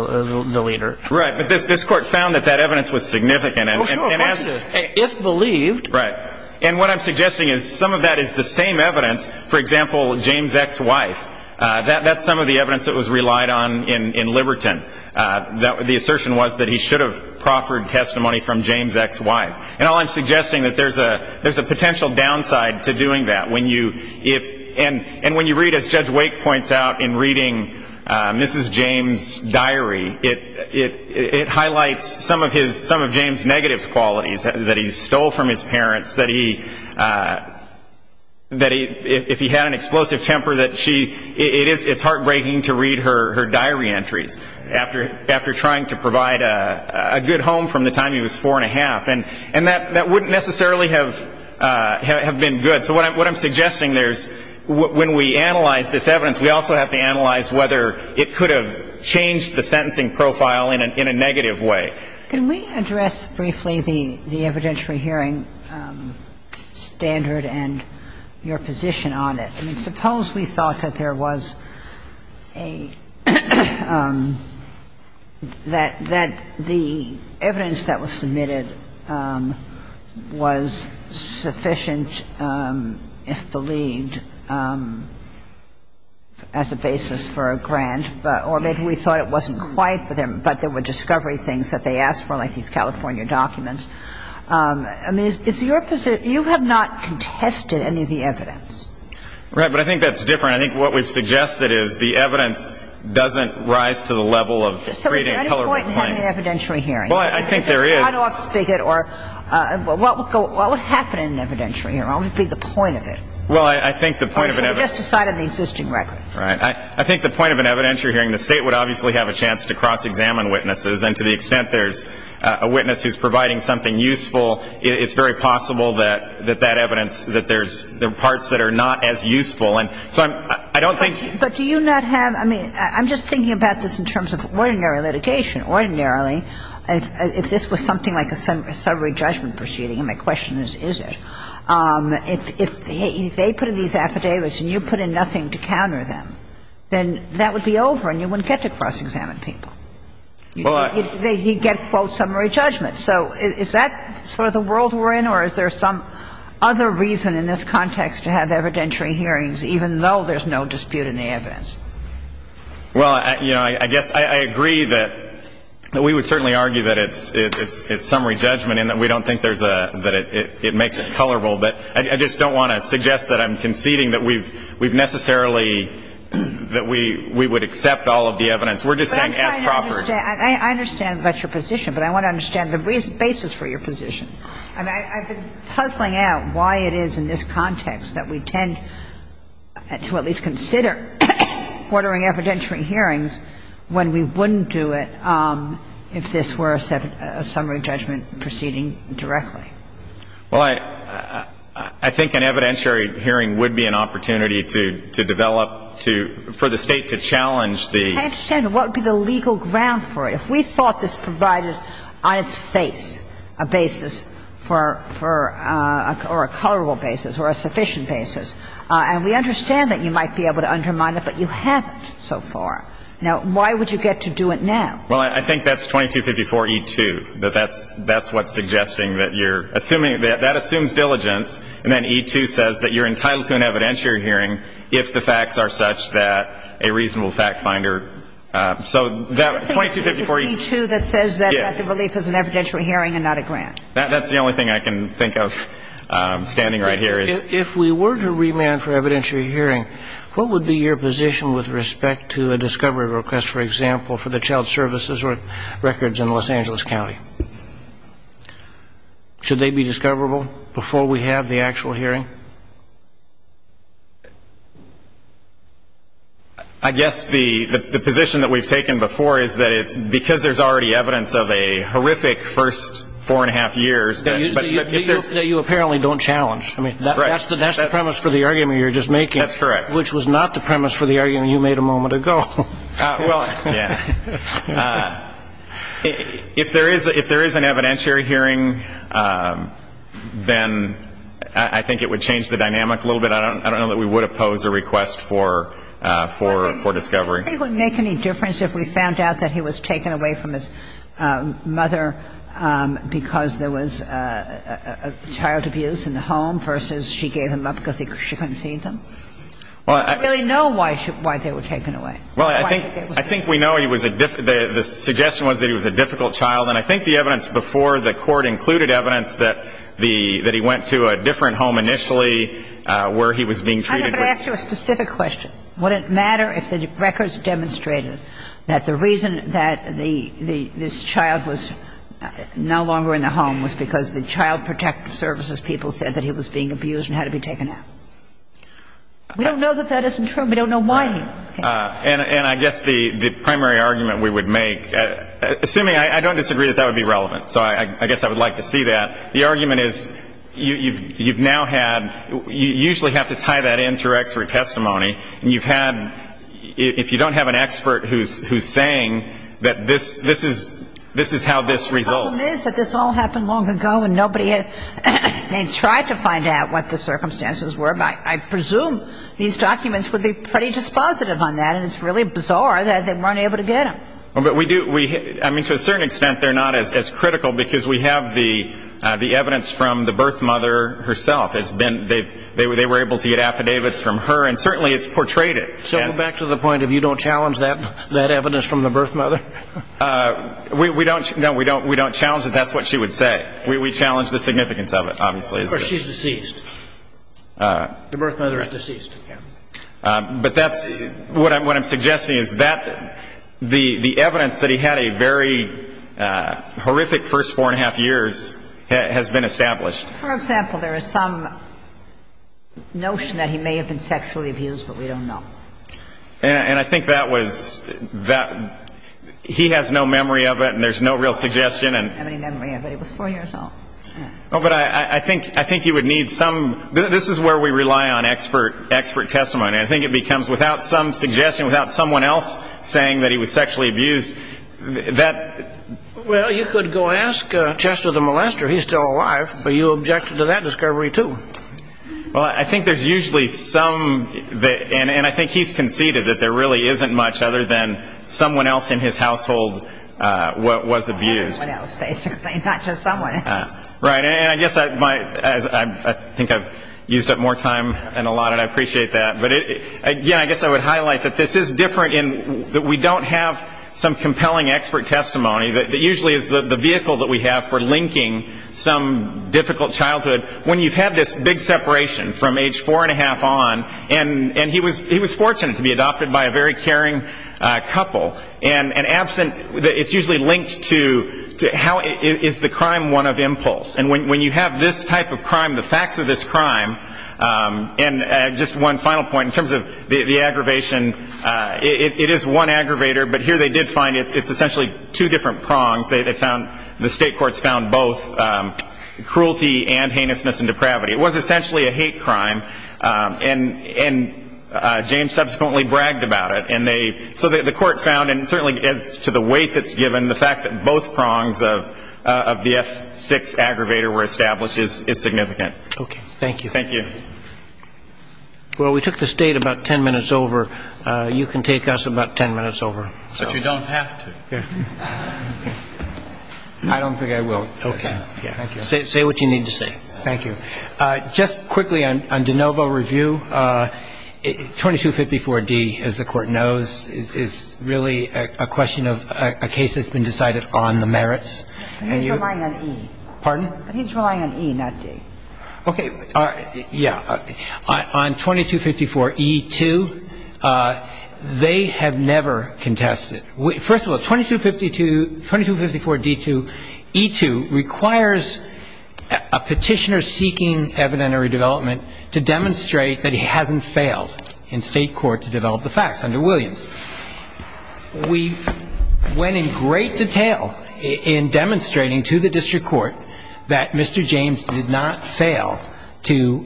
leader. Right. But this court found that that evidence was significant. Well, sure, it was. If believed. Right. And what I'm suggesting is some of that is the same evidence, for example, James' ex-wife. That's some of the evidence that was relied on in Liberton. The assertion was that he should have proffered testimony from James' ex-wife. And all I'm suggesting is that there's a potential downside to doing that. And when you read, as Judge Wake points out, in reading Mrs. James' diary, it highlights some of James' negative qualities, that he stole from his parents, that if he had an explosive temper, it's heartbreaking to read her diary entries after trying to provide a good home from the time he was four and a half. And that wouldn't necessarily have been good. So what I'm suggesting there is when we analyze this evidence, we also have to analyze whether it could have changed the sentencing profile in a negative way. Can we address briefly the evidentiary hearing standard and your position on it? I mean, suppose we thought that there was a, that the evidence that was submitted was sufficient, if believed, as a basis for a grant. Or maybe we thought it wasn't quite for them, but there were discovery things that they asked for, like these California documents. I mean, you have not contested any of the evidence. Right, but I think that's different. I think what we've suggested is the evidence doesn't rise to the level of reading color. So is there any point in having an evidentiary hearing? Well, I think there is. How do I speak it? Or what would happen in an evidentiary hearing? What would be the point of it? Well, I think the point of an evidentiary hearing. Because we just decided the existing record. Right. I think the point of an evidentiary hearing, the State would obviously have a chance to cross-examine witnesses. And to the extent there's a witness who's providing something useful, it's very possible that that evidence, that there's parts that are not as useful. And so I don't think. But do you not have, I mean, I'm just thinking about this in terms of ordinary litigation. Ordinarily, if this was something like a summary judgment proceeding, and my question is, is it? If they put in these affidavits and you put in nothing to counter them, then that would be over and you wouldn't get to cross-examine people. You'd get, quote, summary judgment. So is that sort of the world we're in? Or is there some other reason in this context to have evidentiary hearings, even though there's no dispute in the evidence? Well, you know, I agree that we would certainly argue that it's summary judgment and that we don't think that it makes it colorable. But I just don't want to suggest that I'm conceding that we've necessarily, that we would accept all of the evidence. We're just not asked properly. I understand that's your position, but I want to understand the basis for your position. I mean, I've been puzzling out why it is in this context that we tend to at least consider ordering evidentiary hearings when we wouldn't do it if this were a summary judgment proceeding directly. Well, I think an evidentiary hearing would be an opportunity to develop, for the State to challenge the what would be the legal ground for it. If we thought this provided, on its face, a basis for, or a colorable basis or a sufficient basis, and we understand that you might be able to undermine it, but you haven't so far. Now, why would you get to do it now? Well, I think that's 2254E2. That's what's suggesting that you're assuming, that assumes diligence, and then E2 says that you're entitled to an evidentiary hearing if the facts are such that a reasonable fact finder. So that 2254E2. I think it's E2 that says that the belief is an evidentiary hearing and not a grant. That's the only thing I can think of standing right here. If we were to remand for evidentiary hearing, what would be your position with respect to a discovery request, for example, for the child services records in Los Angeles County? Should they be discoverable before we have the actual hearing? I guess the position that we've taken before is that, because there's already evidence of a horrific first four and a half years. That you apparently don't challenge. That's the premise for the argument you're just making. That's correct. Which was not the premise for the argument you made a moment ago. Well, yeah. If there is an evidentiary hearing, then I think it would change the dynamic a little bit. I don't know that we would oppose a request for discovery. It wouldn't make any difference if we found out that he was taken away from his mother because there was a child abuse in the home versus she gave him up because she couldn't see them. We don't really know why they were taken away. Well, I think we know the suggestion was that he was a difficult child, and I think the evidence before the court included evidence that he went to a different home initially where he was being treated. I'm going to ask you a specific question. Would it matter if the records demonstrated that the reason that this child was no longer in the home was because the child protective services people said that he was being abused and had to be taken out? We don't know that that isn't true. We don't know why he was taken out. And I guess the primary argument we would make, assuming I don't disagree, is that would be relevant. So I guess I would like to see that. The argument is you usually have to tie that in to rectory testimony. If you don't have an expert who's saying that this is how this results. The problem is that this all happened long ago and nobody had tried to find out what the circumstances were. I presume these documents would be pretty dispositive on that, and it's really bizarre that they weren't able to get him. To a certain extent, they're not as critical because we have the evidence from the birth mother herself. They were able to get affidavits from her, and certainly it's portrayed it. So back to the point, if you don't challenge that evidence from the birth mother? No, we don't challenge it. That's what she would say. We challenge the significance of it, obviously. Of course, she's deceased. The birth mother is deceased. But what I'm suggesting is that the evidence that he had a very horrific first four and a half years has been established. For example, there is some notion that he may have been sexually abused, but we don't know. And I think that was that. He has no memory of it, and there's no real suggestion. He doesn't remember it, but it was four years old. But I think he would need some. This is where we rely on expert testimony. I think it becomes without some suggestion, without someone else saying that he was sexually abused, that... Well, you could go and ask Chester the Molester. He's still alive, but you objected to that discovery, too. Well, I think there's usually some... And I think he's conceded that there really isn't much other than someone else in his household was abused. Someone else, basically, not just someone. Right. And I guess I think I've used up more time than allotted. I appreciate that. But, again, I guess I would highlight that this is different in that we don't have some compelling expert testimony. It usually is the vehicle that we have for linking some difficult childhood. When you've had this big separation from age four and a half on... And he was fortunate to be adopted by a very caring couple. And absent... It's usually linked to how is the crime one of impulse. And when you have this type of crime, the facts of this crime... And just one final point in terms of the aggravation... It is one aggravator, but here they did find it's essentially two different prongs. The state courts found both cruelty and heinousness and depravity. It was essentially a hate crime. And James subsequently bragged about it. So the court found, and certainly to the weight that's given, the fact that both prongs of the F6 aggravator were established is significant. Okay. Thank you. Thank you. Well, we took this date about ten minutes over. You can take us about ten minutes over. But you don't have to. I don't think I will. Okay. Say what you need to say. Thank you. Just quickly on de novo review, 2254D, as the court knows, is really a question of a case that's been decided on the merits. He's relying on E. Pardon? He's relying on E, not D. Okay. Yeah. On 2254E2, they have never contested. First of all, 2254D2E2 requires a petitioner seeking evidentiary development to demonstrate that he hasn't failed in state court to develop the facts under Williams. We went in great detail in demonstrating to the district court that Mr. James did not fail to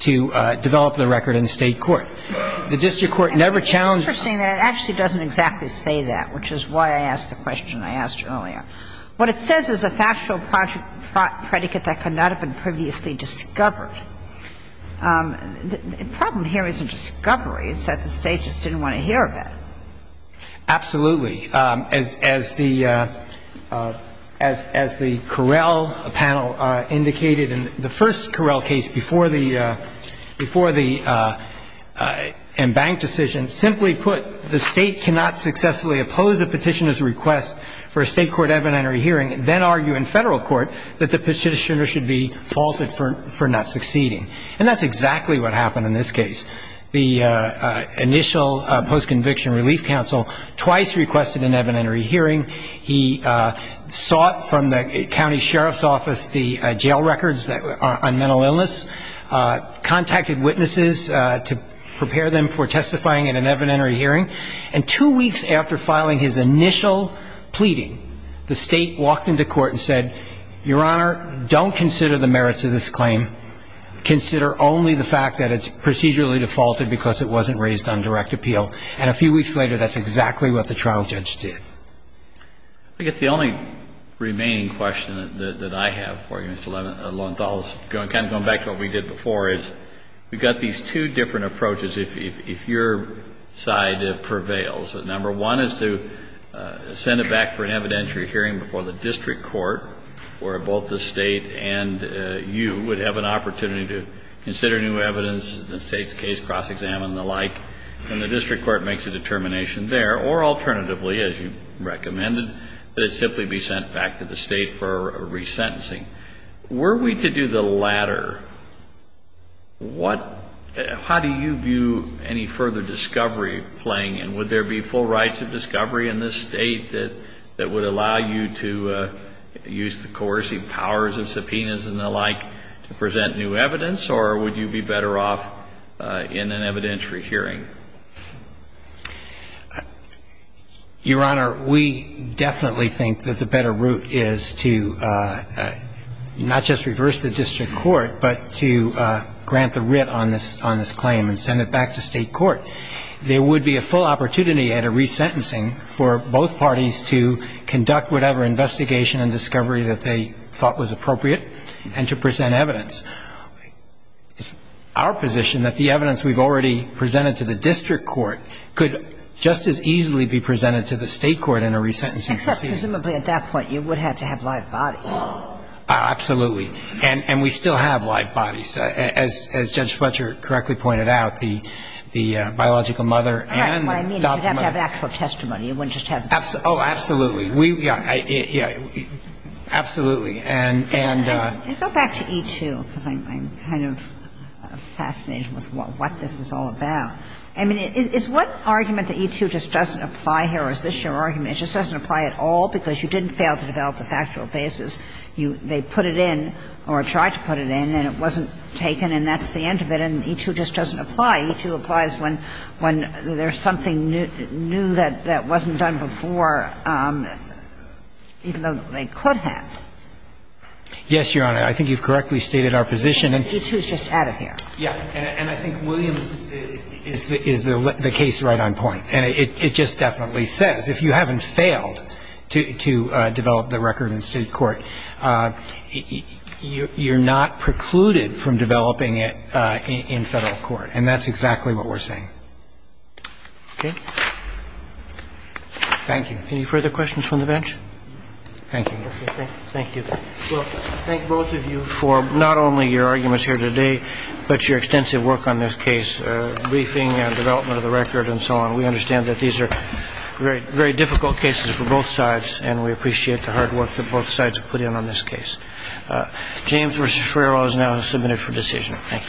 develop the record in state court. The district court never challenged. It's interesting that it actually doesn't exactly say that, which is why I asked the question I asked you earlier. What it says is a factual project predicate that could not have been previously discovered. The problem here isn't discovery. It's that the state just didn't want to hear of it. Absolutely. As the Correll panel indicated in the first Correll case before the embanked decision, simply put, the state cannot successfully oppose a petitioner's request for a state court evidentiary hearing and then argue in federal court that the petitioner should be faulted for not succeeding. And that's exactly what happened in this case. The initial post-conviction relief counsel twice requested an evidentiary hearing. He sought from the county sheriff's office the jail records on mental illness, contacted witnesses to prepare them for testifying in an evidentiary hearing, and two weeks after filing his initial pleading, the state walked into court and said, Your Honor, don't consider the merits of this claim. Consider only the fact that it's procedurally defaulted because it wasn't raised on direct appeal. And a few weeks later, that's exactly what the trial judge did. I think it's the only remaining question that I have for you, Mr. Lowenthal. Kind of going back to what we did before is we've got these two different approaches. One is if your side prevails, number one is to send it back for an evidentiary hearing before the district court where both the state and you would have an opportunity to consider new evidence, the state's case, cross-examine, and the like, and the district court makes a determination there, or alternatively, as you recommended, that it simply be sent back to the state for resentencing. Were we to do the latter, how do you view any further discovery playing in? Would there be full rights of discovery in this state that would allow you to use the coercive powers of subpoenas and the like to present new evidence, or would you be better off in an evidentiary hearing? Your Honor, we definitely think that the better route is to not just reverse the district court, but to grant the writ on this claim and send it back to state court. There would be a full opportunity at a resentencing for both parties to conduct whatever investigation and discovery that they thought was appropriate and to present evidence. It's our position that the evidence we've already presented to the district court could just as easily be presented to the state court in a resentencing proceeding. Except presumably at that point you would have to have live bodies. Absolutely. And we still have live bodies. As Judge Fletcher correctly pointed out, the biological mother and the daughter. That's what I mean. You'd have to have an actual testimony. You wouldn't just have. Oh, absolutely. Yeah, absolutely. And go back to E-2, because I'm kind of fascinated with what this is all about. I mean, is what argument that E-2 just doesn't apply here, or is this your argument, It just doesn't apply at all because you didn't fail to develop a factual basis. They put it in or tried to put it in, and it wasn't taken, and that's the end of it. And E-2 just doesn't apply. E-2 applies when there's something new that wasn't done before, even though they could have. Yes, Your Honor. I think you've correctly stated our position. E-2 is just out of here. Yeah. And I think William is the case right on point. It just definitely says if you haven't failed to develop the record in state court, you're not precluded from developing it in federal court, and that's exactly what we're saying. Okay. Thank you. Any further questions from the bench? Thank you. Thank you. Well, I thank both of you for not only your arguments here today, but your extensive work on this case, briefing and development of the record and so on. We understand that these are very, very difficult cases for both sides, and we appreciate the hard work that both sides have put in on this case. James v. Schwerow is now to submit it for decision. Thank you.